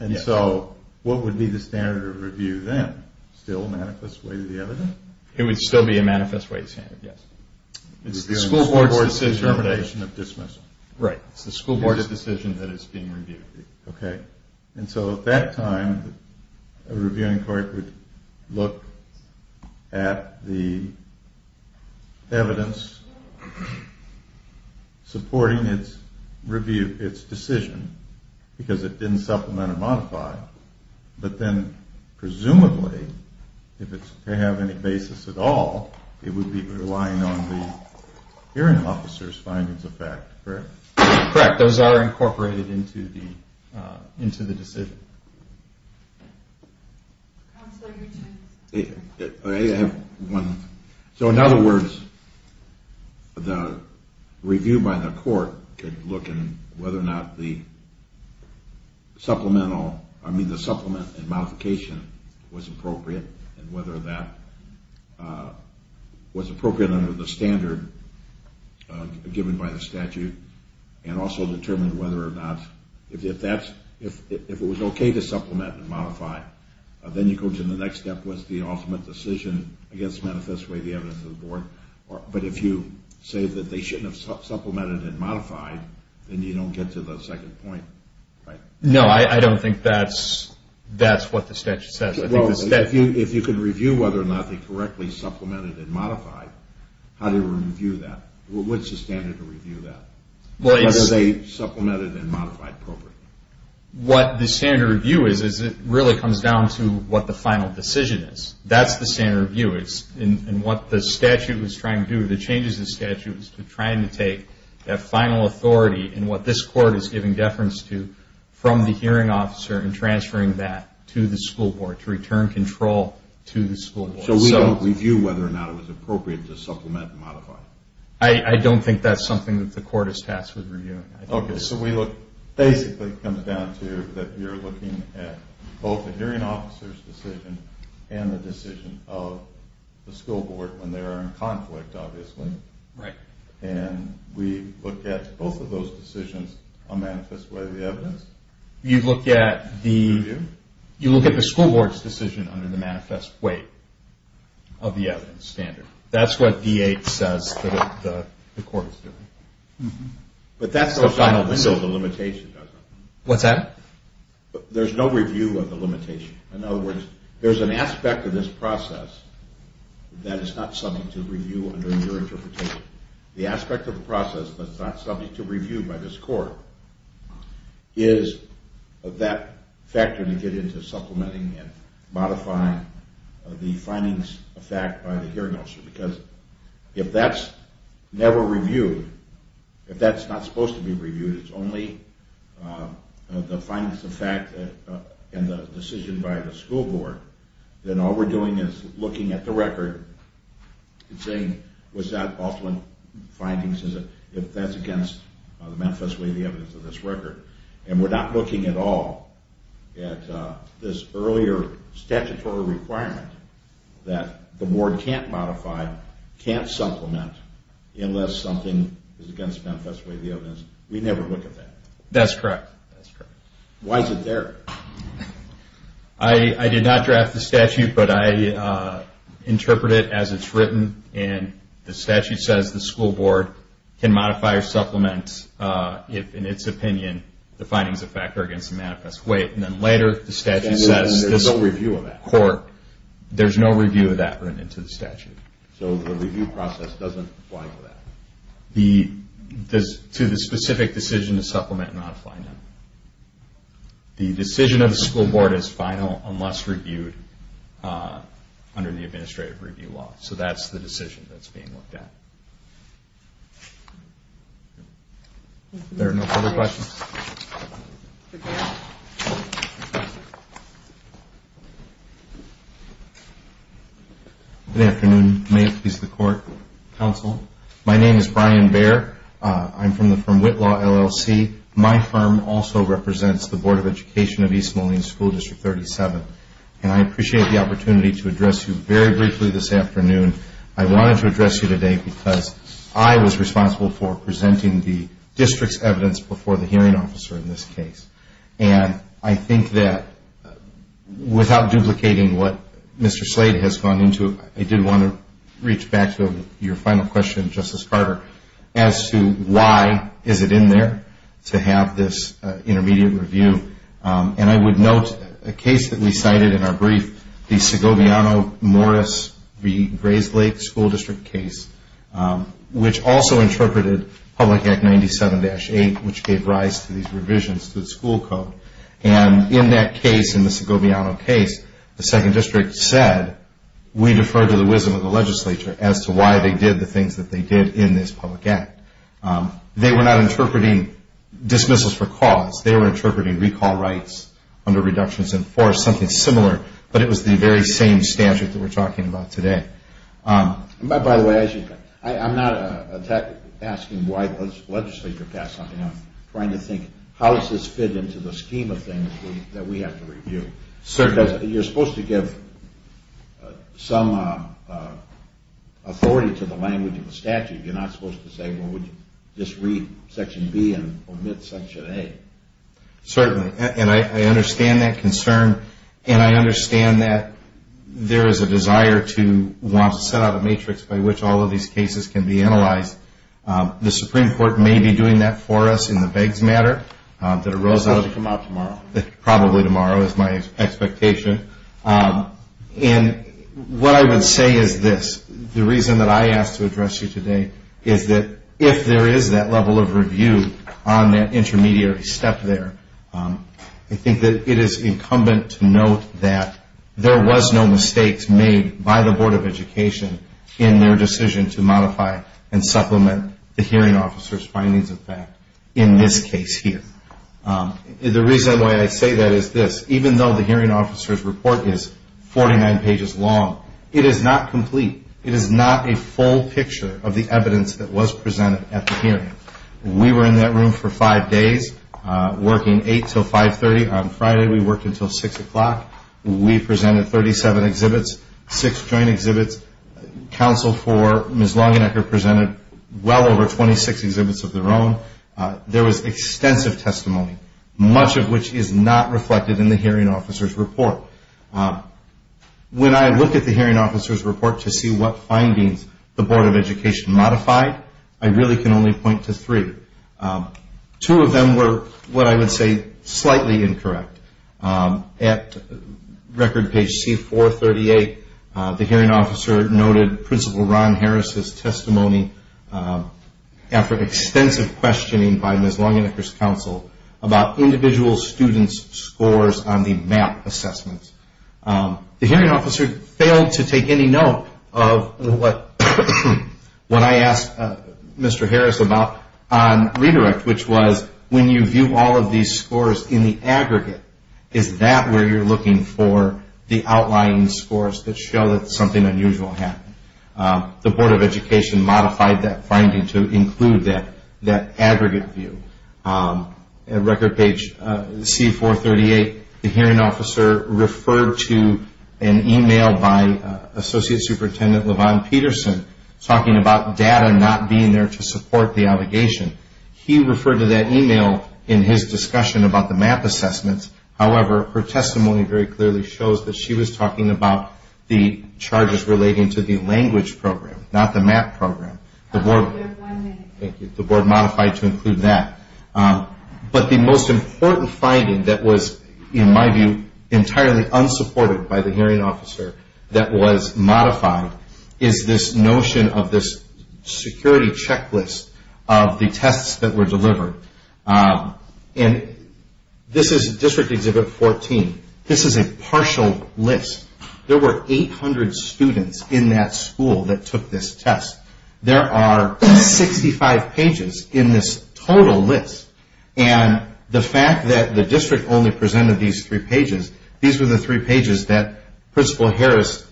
And so what would be the standard of review then? Still manifest way to the evidence? It would still be a manifest way standard, yes The school board's determination of dismissal The school board's decision that is being reviewed And so at that time a reviewing court would look at the evidence supporting its review, its decision because it didn't supplement or modify But then presumably if it's to have any basis at all it would be relying on the hearing officer's findings of fact Correct Those are incorporated into the decision So in other words the review by the court could look at whether or not the supplemental, I mean the supplement and modification was appropriate and whether that was appropriate under the standard given by the statute and also determine whether or not if it was okay to supplement and modify then you go to the next step which is the ultimate decision against manifest way to the evidence of the board But if you say that they shouldn't have supplemented and modified then you don't get to the second point No, I don't think that's that's what the statute says If you can review whether or not they correctly supplemented and modified how do you review that? What's the standard to review that? Whether they supplemented and modified appropriately What the standard review is is it really comes down to what the final decision is That's the standard review and what the statute is trying to do, the changes in the statute is trying to take that final authority and what this court is giving deference to from the hearing officer and transferring that to the school board to return control to the school board So we don't review whether or not it was appropriate to supplement and modify I don't think that's something that the court is tasked with reviewing Okay, so we look So it basically comes down to that you're looking at both the hearing officer's decision and the decision of the school board when they're in conflict, obviously and we look at both of those decisions on manifest way to the evidence You look at the school board's decision under the manifest way of the evidence standard That's what VA says that the court is doing But that goes out of the window of the limitation What's that? There's no review of the limitation In other words, there's an aspect of this process that is not subject to review under your interpretation The aspect of the process that's not subject to review by this court is that factor to get into supplementing and modifying the findings by the hearing officer because if that's never reviewed if that's not supposed to be reviewed it's only the findings of fact and the decision by the school board then all we're doing is looking at the record and saying is that supplement findings if that's against the manifest way of the evidence of this record and we're not looking at all at this earlier statutory requirement that the board can't modify, can't supplement unless something is against manifest way of the evidence We never look at that That's correct Why is it there? I did not draft the statute but I interpret it as it's written and the statute says the school board can modify or supplement in its opinion the findings of factor against the manifest way and then later the statute says there's no review of that written into the statute So the review process doesn't apply to that To the specific decision to supplement and modify The decision of the school board is final unless reviewed under the administrative review law So that's the decision that's being looked at Any other questions? Good afternoon My name is Brian Baer I'm from Whitlaw LLC My firm also represents the Board of Education of East Moline School District 37 and I appreciate the opportunity to address you very briefly this afternoon I wanted to address you today because I was responsible for presenting the district's evidence before the hearing officer in this case and I think that without duplicating what Mr. Slade has gone into I did want to reach back to your final question Justice Carter as to why is it in there to have this intermediate review and I would note a case that we cited in our brief the Segoviano-Morris v. Grayslake school district case which also interpreted Public Act 97-8 which gave rise to these revisions to the school code and in that case, in the Segoviano case the second district said we defer to the wisdom of the legislature as to why they did the things that they did in this public act They were not interpreting dismissals for cause They were interpreting recall rights under reductions in force or something similar, but it was the very same statute that we're talking about today I'm not asking why the legislature passed something I'm trying to think how does this fit into the scheme of things that we have to review You're supposed to give some authority to the language of the statute You're not supposed to say we'll just read section B and omit section A Certainly, and I understand that concern and I understand that there is a desire to want to set out a matrix by which all of these cases can be analyzed The Supreme Court may be doing that for us in the begs matter It's supposed to come out tomorrow Probably tomorrow is my expectation What I would say is this The reason that I asked to address you today is that if there is that level of review on that intermediary step there I think that it is incumbent to note that there was no mistakes made by the Board of Education in their decision to modify and supplement the hearing officer's findings of fact in this case here The reason why I say that is this Even though the hearing officer's report is 49 pages long It is not complete It is not a full picture of the evidence that was presented at the hearing We were in that room for 5 days Working 8 until 5.30 on Friday We worked until 6 o'clock We presented 37 exhibits, 6 joint exhibits Counsel for Ms. Longenecker presented well over 26 exhibits of their own There was extensive testimony Much of which is not reflected in the hearing officer's report When I look at the hearing officer's report to see what findings the Board of Education modified I really can only point to three Two of them were what I would say slightly incorrect At record page C438 the hearing officer noted Principal Ron Harris' testimony after extensive questioning by Ms. Longenecker's counsel about individual students' scores on the math assessments The hearing officer failed to take any note of what I asked Mr. Harris about on redirect which was when you view all of these scores in the aggregate, is that where you're looking for the outlying scores that show that something unusual happened The Board of Education modified that finding to include that aggregate view At record page C438 the hearing officer referred to an email by Associate Superintendent Levon Peterson talking about data not being there to support the obligation He referred to that email in his discussion about the math assessments However, her testimony very clearly shows that she was talking about the charges relating to the language program not the math program The Board modified to include that But the most important finding that was, in my view entirely unsupported by the hearing officer that was modified is this notion of this security checklist of the tests that were delivered This is District Exhibit 14 This is a partial list There were 800 students in that school that took this test There are 65 pages in this total list And the fact that the district only presented these three pages, these were the three pages that Principal Harris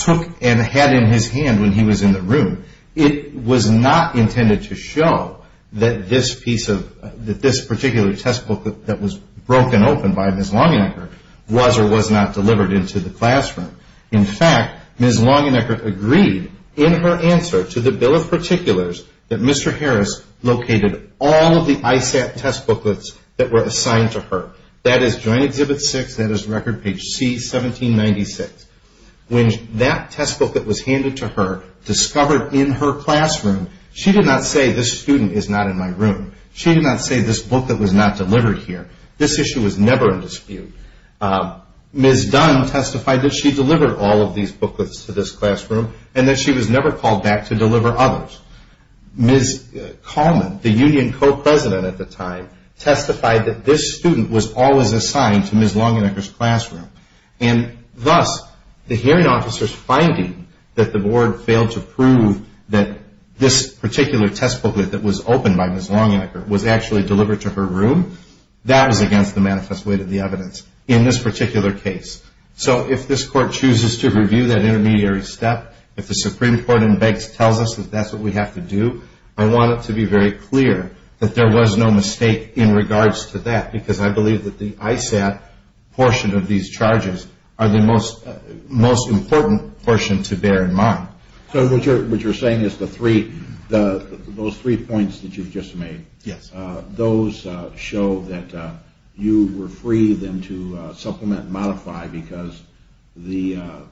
took and had in his hand when he was in the room It was not intended to show that this piece of that this particular textbook that was broken open by Ms. Longenecker was or was not delivered into the classroom In fact, Ms. Longenecker agreed in her answer to the Bill of Particulars that Mr. Harris located all of the ISAT test booklets that were assigned to her That is Joint Exhibit 6, that is Record Page C, 1796 When that testbook that was handed to her discovered in her classroom she did not say, this student is not in my room She did not say this book that was not delivered here This issue was never in dispute Ms. Dunn testified that she delivered all of these booklets to this classroom and that she was never called back to deliver others Ms. Coleman, the union co-president at the time testified that this student was always assigned to Ms. Longenecker's classroom And thus, the hearing officers finding that the board failed to prove that this particular test booklet that was opened by Ms. Longenecker was actually delivered to her room that is against the manifest way of the evidence in this particular case So, if this Court chooses to review that intermediary step if the Supreme Court begs and tells us that that's what we have to do I want it to be very clear that there was no mistake in regards to that because I believe that the ISAT portion of these charges are the most important portion to bear in mind So, what you're saying is those three points that you just made those show that you were free then to supplement and modify because those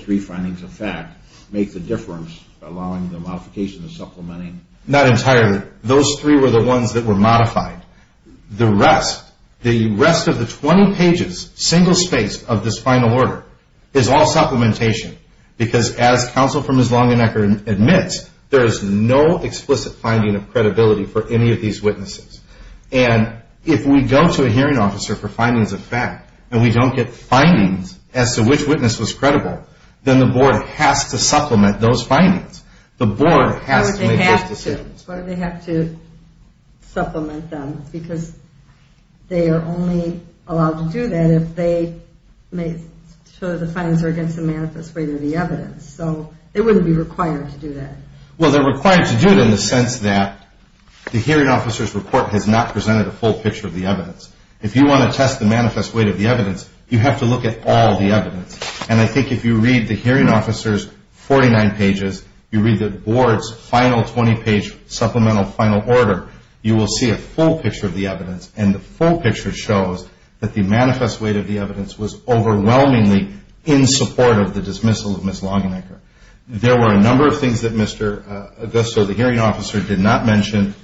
three findings of fact make the difference along the modification of supplementing Not entirely Those three were the ones that were modified The rest of the 20 pages, single spaced of this final order is all supplementation because as counsel from Ms. Longenecker admits there is no explicit finding of credibility for any of these witnesses And if we go to a hearing officer for findings of fact and we don't get findings as to which witness was credible then the board has to supplement those findings The board has to make those decisions What if they have to supplement them because they are only allowed to do that if they show that the findings are against the manifest weight of the evidence So, it wouldn't be required to do that Well, they're required to do it in the sense that the hearing officer's report has not presented a full picture of the evidence If you want to test the manifest weight of the evidence you have to look at all the evidence And I think if you read the hearing officer's 49 pages you read the board's final 20 page supplemental final order you will see a full picture of the evidence And the full picture shows that the manifest weight of the evidence was overwhelmingly in support of the dismissal of Ms. Longenecker There were a number of things that Mr. Augusto the hearing officer did not mention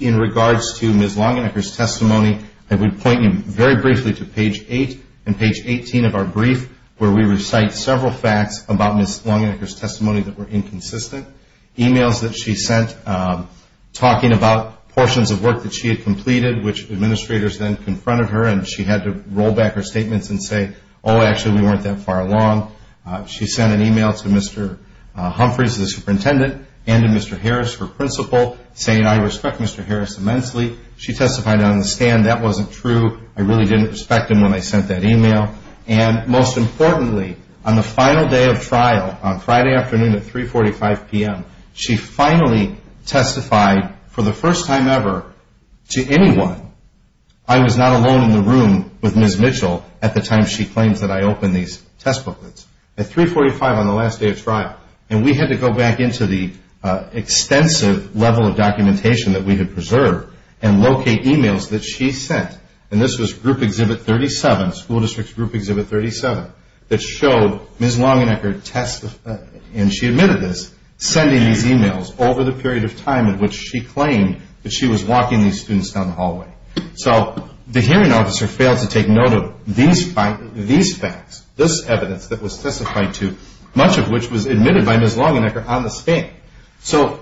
in regards to Ms. Longenecker's testimony I would point you very briefly to page 8 and page 18 of our brief where we recite several facts about Ms. Longenecker's testimony that were inconsistent Emails that she sent talking about portions of work that she had completed which administrators then confronted her and she had to roll back her statements and say Oh, actually we weren't that far along She sent an email to Mr. Humphreys, the superintendent and to Mr. Harris, her principal saying I respect Mr. Harris immensely She testified on the stand that wasn't true I really didn't respect him when I sent that email And most importantly, on the final day of trial on Friday afternoon at 3.45 p.m. she finally testified for the first time ever to anyone I was not alone in the room with Ms. Mitchell at the time she claimed that I opened these test booklets At 3.45 on the last day of trial and we had to go back into the extensive level of documentation that we had preserved and locate emails that she sent and this was group exhibit 37 school district group exhibit 37 that showed Ms. Longenecker testifying and she admitted this, sending these emails over the period of time in which she claimed that she was walking these students down the hallway So the hearing officer failed to take note of these facts this evidence that was testified to much of which was admitted by Ms. Longenecker on the stand So,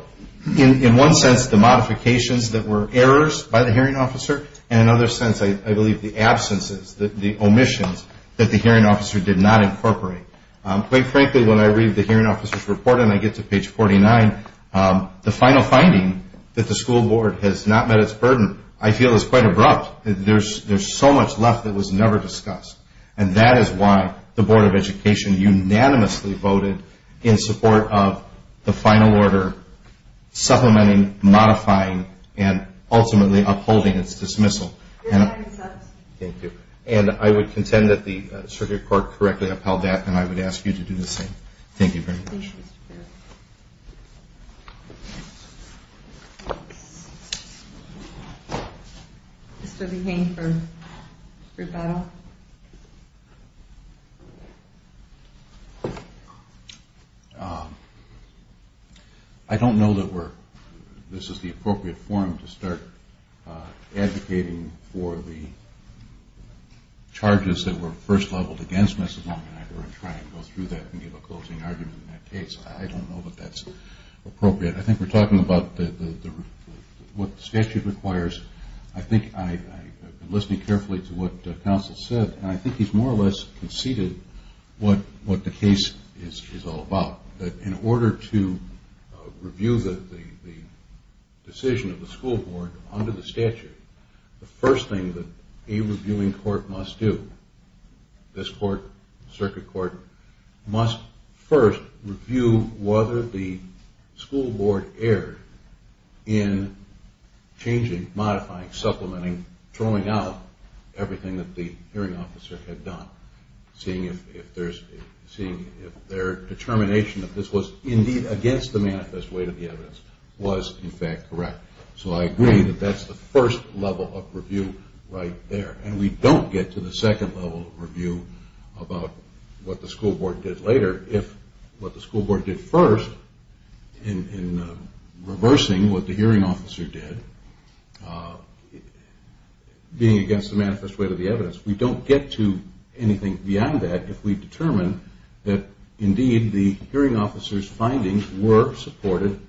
in one sense, the modifications that were errors by the hearing officer and in another sense, I believe the absence, the omissions that the hearing officer did not incorporate Quite frankly, when I read the hearing officer's report and I get to page 49, the final finding that the school board has not met its burden I feel is quite abrupt, there's so much left that was never discussed and that is why the board of education unanimously voted in support of the final order supplementing, modifying, and ultimately upholding its dismissal And I would contend that the circuit court correctly upheld that and I would ask you to do the same Thank you very much Mr. Behane from Fruit Battle I don't know that we're this is the appropriate forum to start advocating for the charges that were first leveled against Ms. Longenecker I'm trying to go through that and give a closing argument in that case I don't know that that's appropriate I think we're talking about what the statute requires I think I've been listening carefully to what the counsel said and I think he's more or less conceded what the case is all about In order to review the decision of the school board under the statute the first thing that a reviewing court must do this circuit court must first review whether the school board erred in changing, modifying, supplementing throwing out everything that the seeing if their determination if this was indeed against the manifest weight of the evidence was in fact correct So I agree that that's the first level of review right there and we don't get to the second level of review about what the school board did later if what the school board did first in reversing what the hearing officer did being against the manifest weight of the evidence We don't get to anything beyond that if we determine that indeed the hearing officer's findings were supported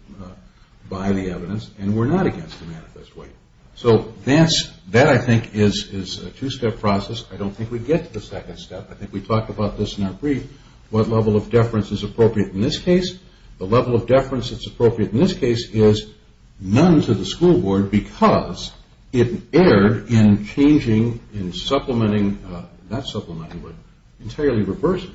by the evidence and were not against the manifest weight So that I think is a two-step process I don't think we get to the second step I think we talked about this in our brief what level of deference is appropriate in this case The level of deference that's appropriate in this case is none to the school board because it erred in changing, in supplementing not supplementing, but entirely reversing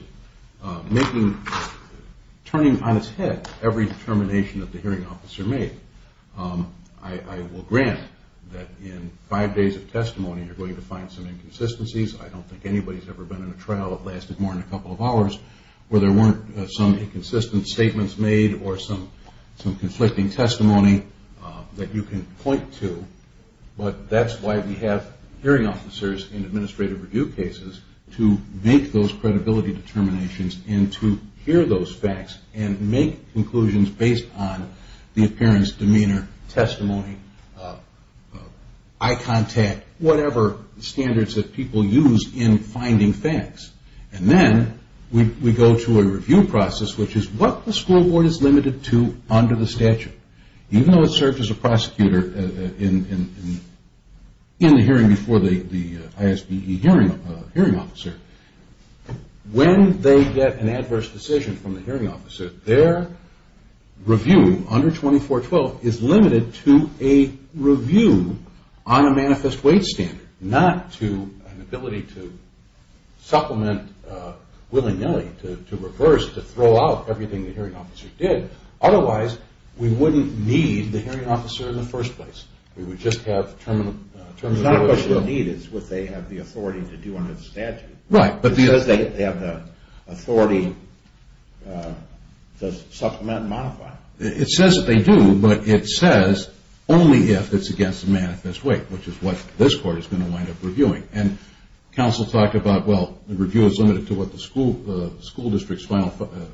turning on its head every determination that the hearing officer made I will grant that in five days of testimony you're going to find some inconsistencies I don't think anybody's ever been in a trial that lasted more than a couple of hours where there weren't some inconsistent statements made or some conflicting testimony that you can point to but that's why we have hearing officers in administrative review cases to make those credibility determinations and to hear those facts and make conclusions based on the appearance, demeanor, testimony eye contact whatever standards that people use in finding facts and then we go to a review process which is what the school board is limited to under the statute even though it serves as a prosecutor in the hearing before the ISBG hearing officer when they get an adverse decision from the hearing officer their review under 2412 is limited to a review on a manifest weight standard not to an ability to supplement and willy-nilly to reverse to throw out everything the hearing officer did otherwise we wouldn't need the hearing officer in the first place we would just have terminated it's what they have the authority to do under the statute they have the authority to supplement and modify it says that they do but it says only if it's against the manifest weight which is what this court is going to wind up reviewing the review is limited to what the school district's final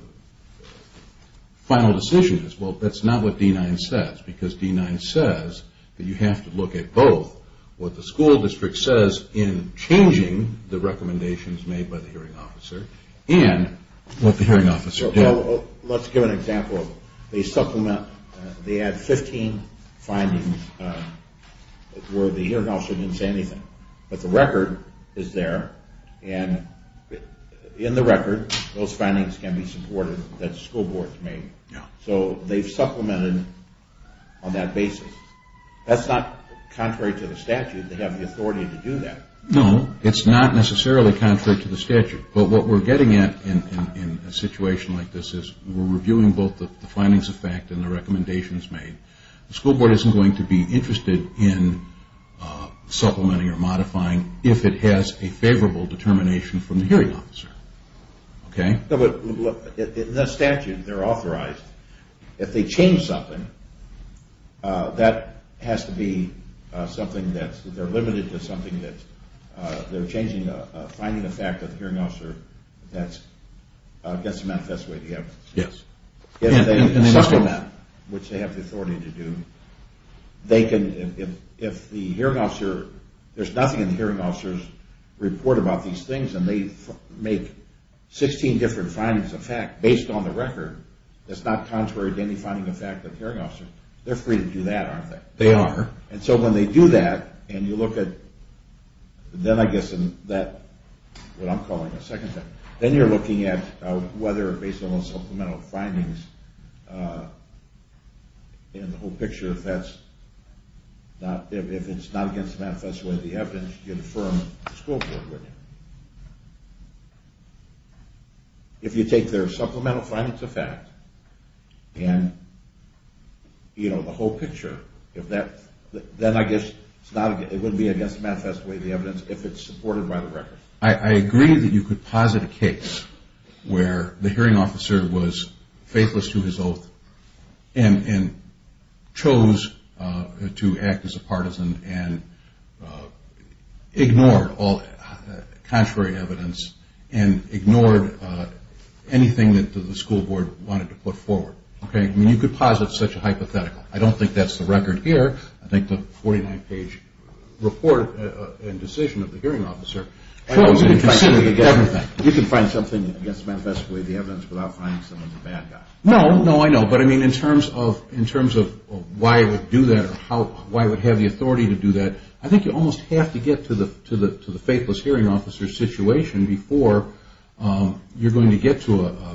decision is well that's not what D-9 says because D-9 says that you have to look at both what the school district says in changing the recommendations made by the hearing officer and what the hearing officer did let's give an example so they supplement they add 15 findings where the hearing officer didn't say anything but the record is there and in the record those findings can be supported that the school board made so they've supplemented on that basis that's not contrary to the statute they have the authority to do that no, it's not necessarily contrary to the statute but what we're getting at in a situation like this is we're reviewing both the findings of fact and the recommendations made the school board isn't going to be interested in supplementing or modifying if it has a favorable determination from the hearing officer okay in the statute they're authorized if they change something that has to be something that they're limited to something that they're finding the fact with the hearing officer that's not the best way to go if they supplement, which they have the authority to do they can, if the hearing officer there's nothing in the hearing officer's report about these things and they make 16 different findings of fact based on the record that's not contrary to any finding of fact they're free to do that aren't they? They are. and so when they do that and you look at then I guess then you're looking at whether based on those supplemental findings in the whole picture if it's not against the math that's what they have to confirm the school board with if you take their supplemental findings of fact and the whole picture then I guess it wouldn't be against the math that's the way the evidence if it's supported by the record I agree that you could posit a case where the hearing officer was faithless to his oath and chose to act as a partisan and ignored all contrary evidence and ignored anything that the school board wanted to put forward you could posit such a hypothetical I don't think that's the record here I think the 49 page report and decision of the hearing officer you can find something that's manifestly the evidence without finding someone's a bad guy no, no I know, but in terms of why I would do that or why I would have the authority to do that I think you almost have to get to the faithless hearing officer situation before you're going to get to a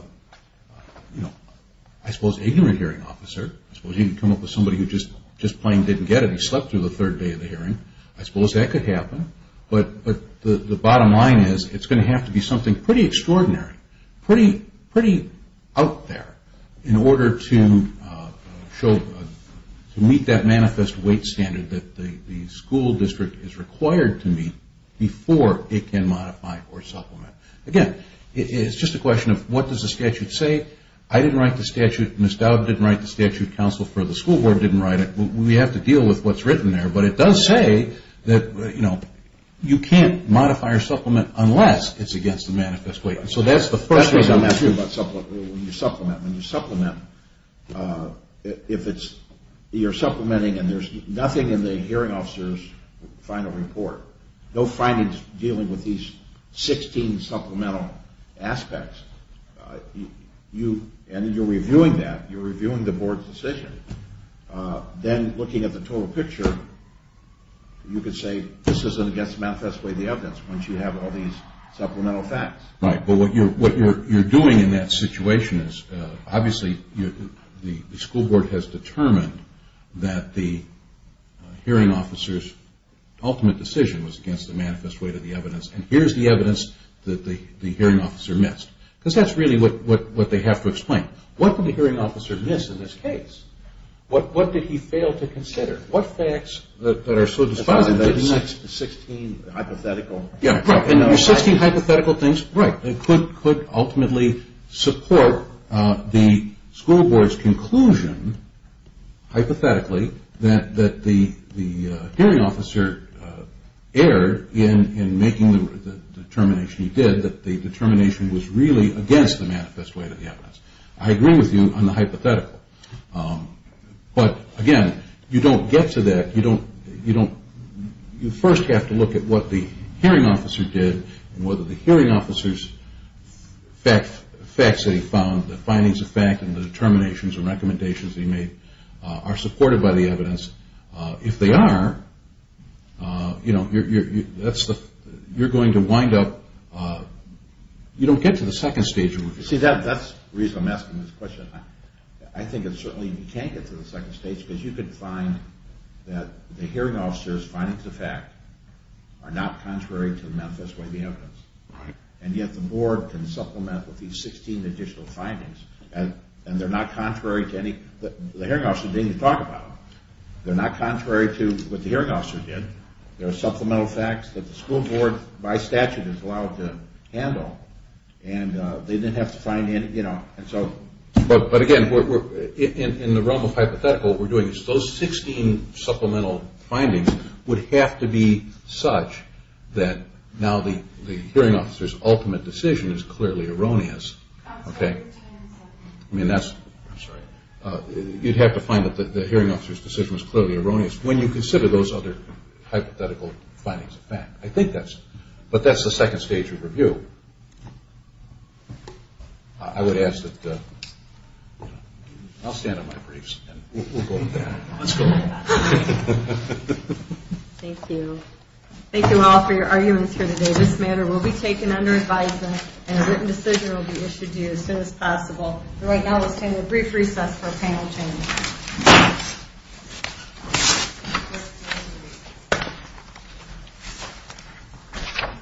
I suppose ignorant hearing officer I suppose you can come up with somebody who just plain didn't get it he slept through the third day of the hearing I suppose that could happen, but the bottom line is it's going to have to be something pretty extraordinary pretty out there in order to meet that manifest weight standard that the school district is required to meet before it can modify or supplement again, it's just a question of what does the statute say I didn't write the statute, Ms. Dowd didn't write the statute counsel for the school board didn't write it, we have to deal with what's written there but it does say that you can't modify or supplement unless it's against the manifest weight so that's the first case I'm asking about supplement when you supplement if you're supplementing and there's nothing in the hearing officer's final report no findings dealing with these 16 supplemental aspects and you're reviewing that, you're reviewing the board's decision then looking at the total picture you can say this isn't against manifest weight the evidence once you have all these supplemental facts right, but what you're doing in that situation obviously the school board has determined that the hearing officer's ultimate decision was against the manifest weight of the evidence and here's the evidence that the hearing officer missed because that's really what they have to explain what did the hearing officer miss in this case what did he fail to consider, what facts that are so decided that he missed the 16 hypothetical things right, and could ultimately support the school board's conclusion hypothetically that the hearing officer erred in making the determination he did, that the determination was really against the manifest weight of the evidence. I agree with you on the hypothetical but again, you don't get to that you first have to look at what the hearing officer did and whether the hearing officer's facts that he found the findings of fact and the determinations and recommendations that he made are supported by the evidence if they are you're going to wind up you don't get to the second stage that's the reason I'm asking this question I think that certainly you can't get to the second stage because you could find that the hearing officer's findings of fact are not contrary to the manifest weight of the evidence and yet the board can supplement with these 16 additional findings and they're not contrary to any the hearing officer didn't even talk about them they're not contrary to what the hearing officer did there are supplemental facts that the school board by statute is allowed to handle and they didn't have to sign in but again, in the realm of hypothetical what we're doing is those 16 supplemental findings would have to be such that now the hearing officer's ultimate decision is clearly erroneous and that's you'd have to find that the hearing officer's decision is clearly erroneous when you consider those other hypothetical findings of fact I think that's it, but that's the second stage of review I would ask that I'll stand on my briefs and we'll go from there Thank you Thank you all for your arguments here today this matter will be taken under advisement and a written decision will be issued to you as soon as possible so right now we'll take a brief recess Thank you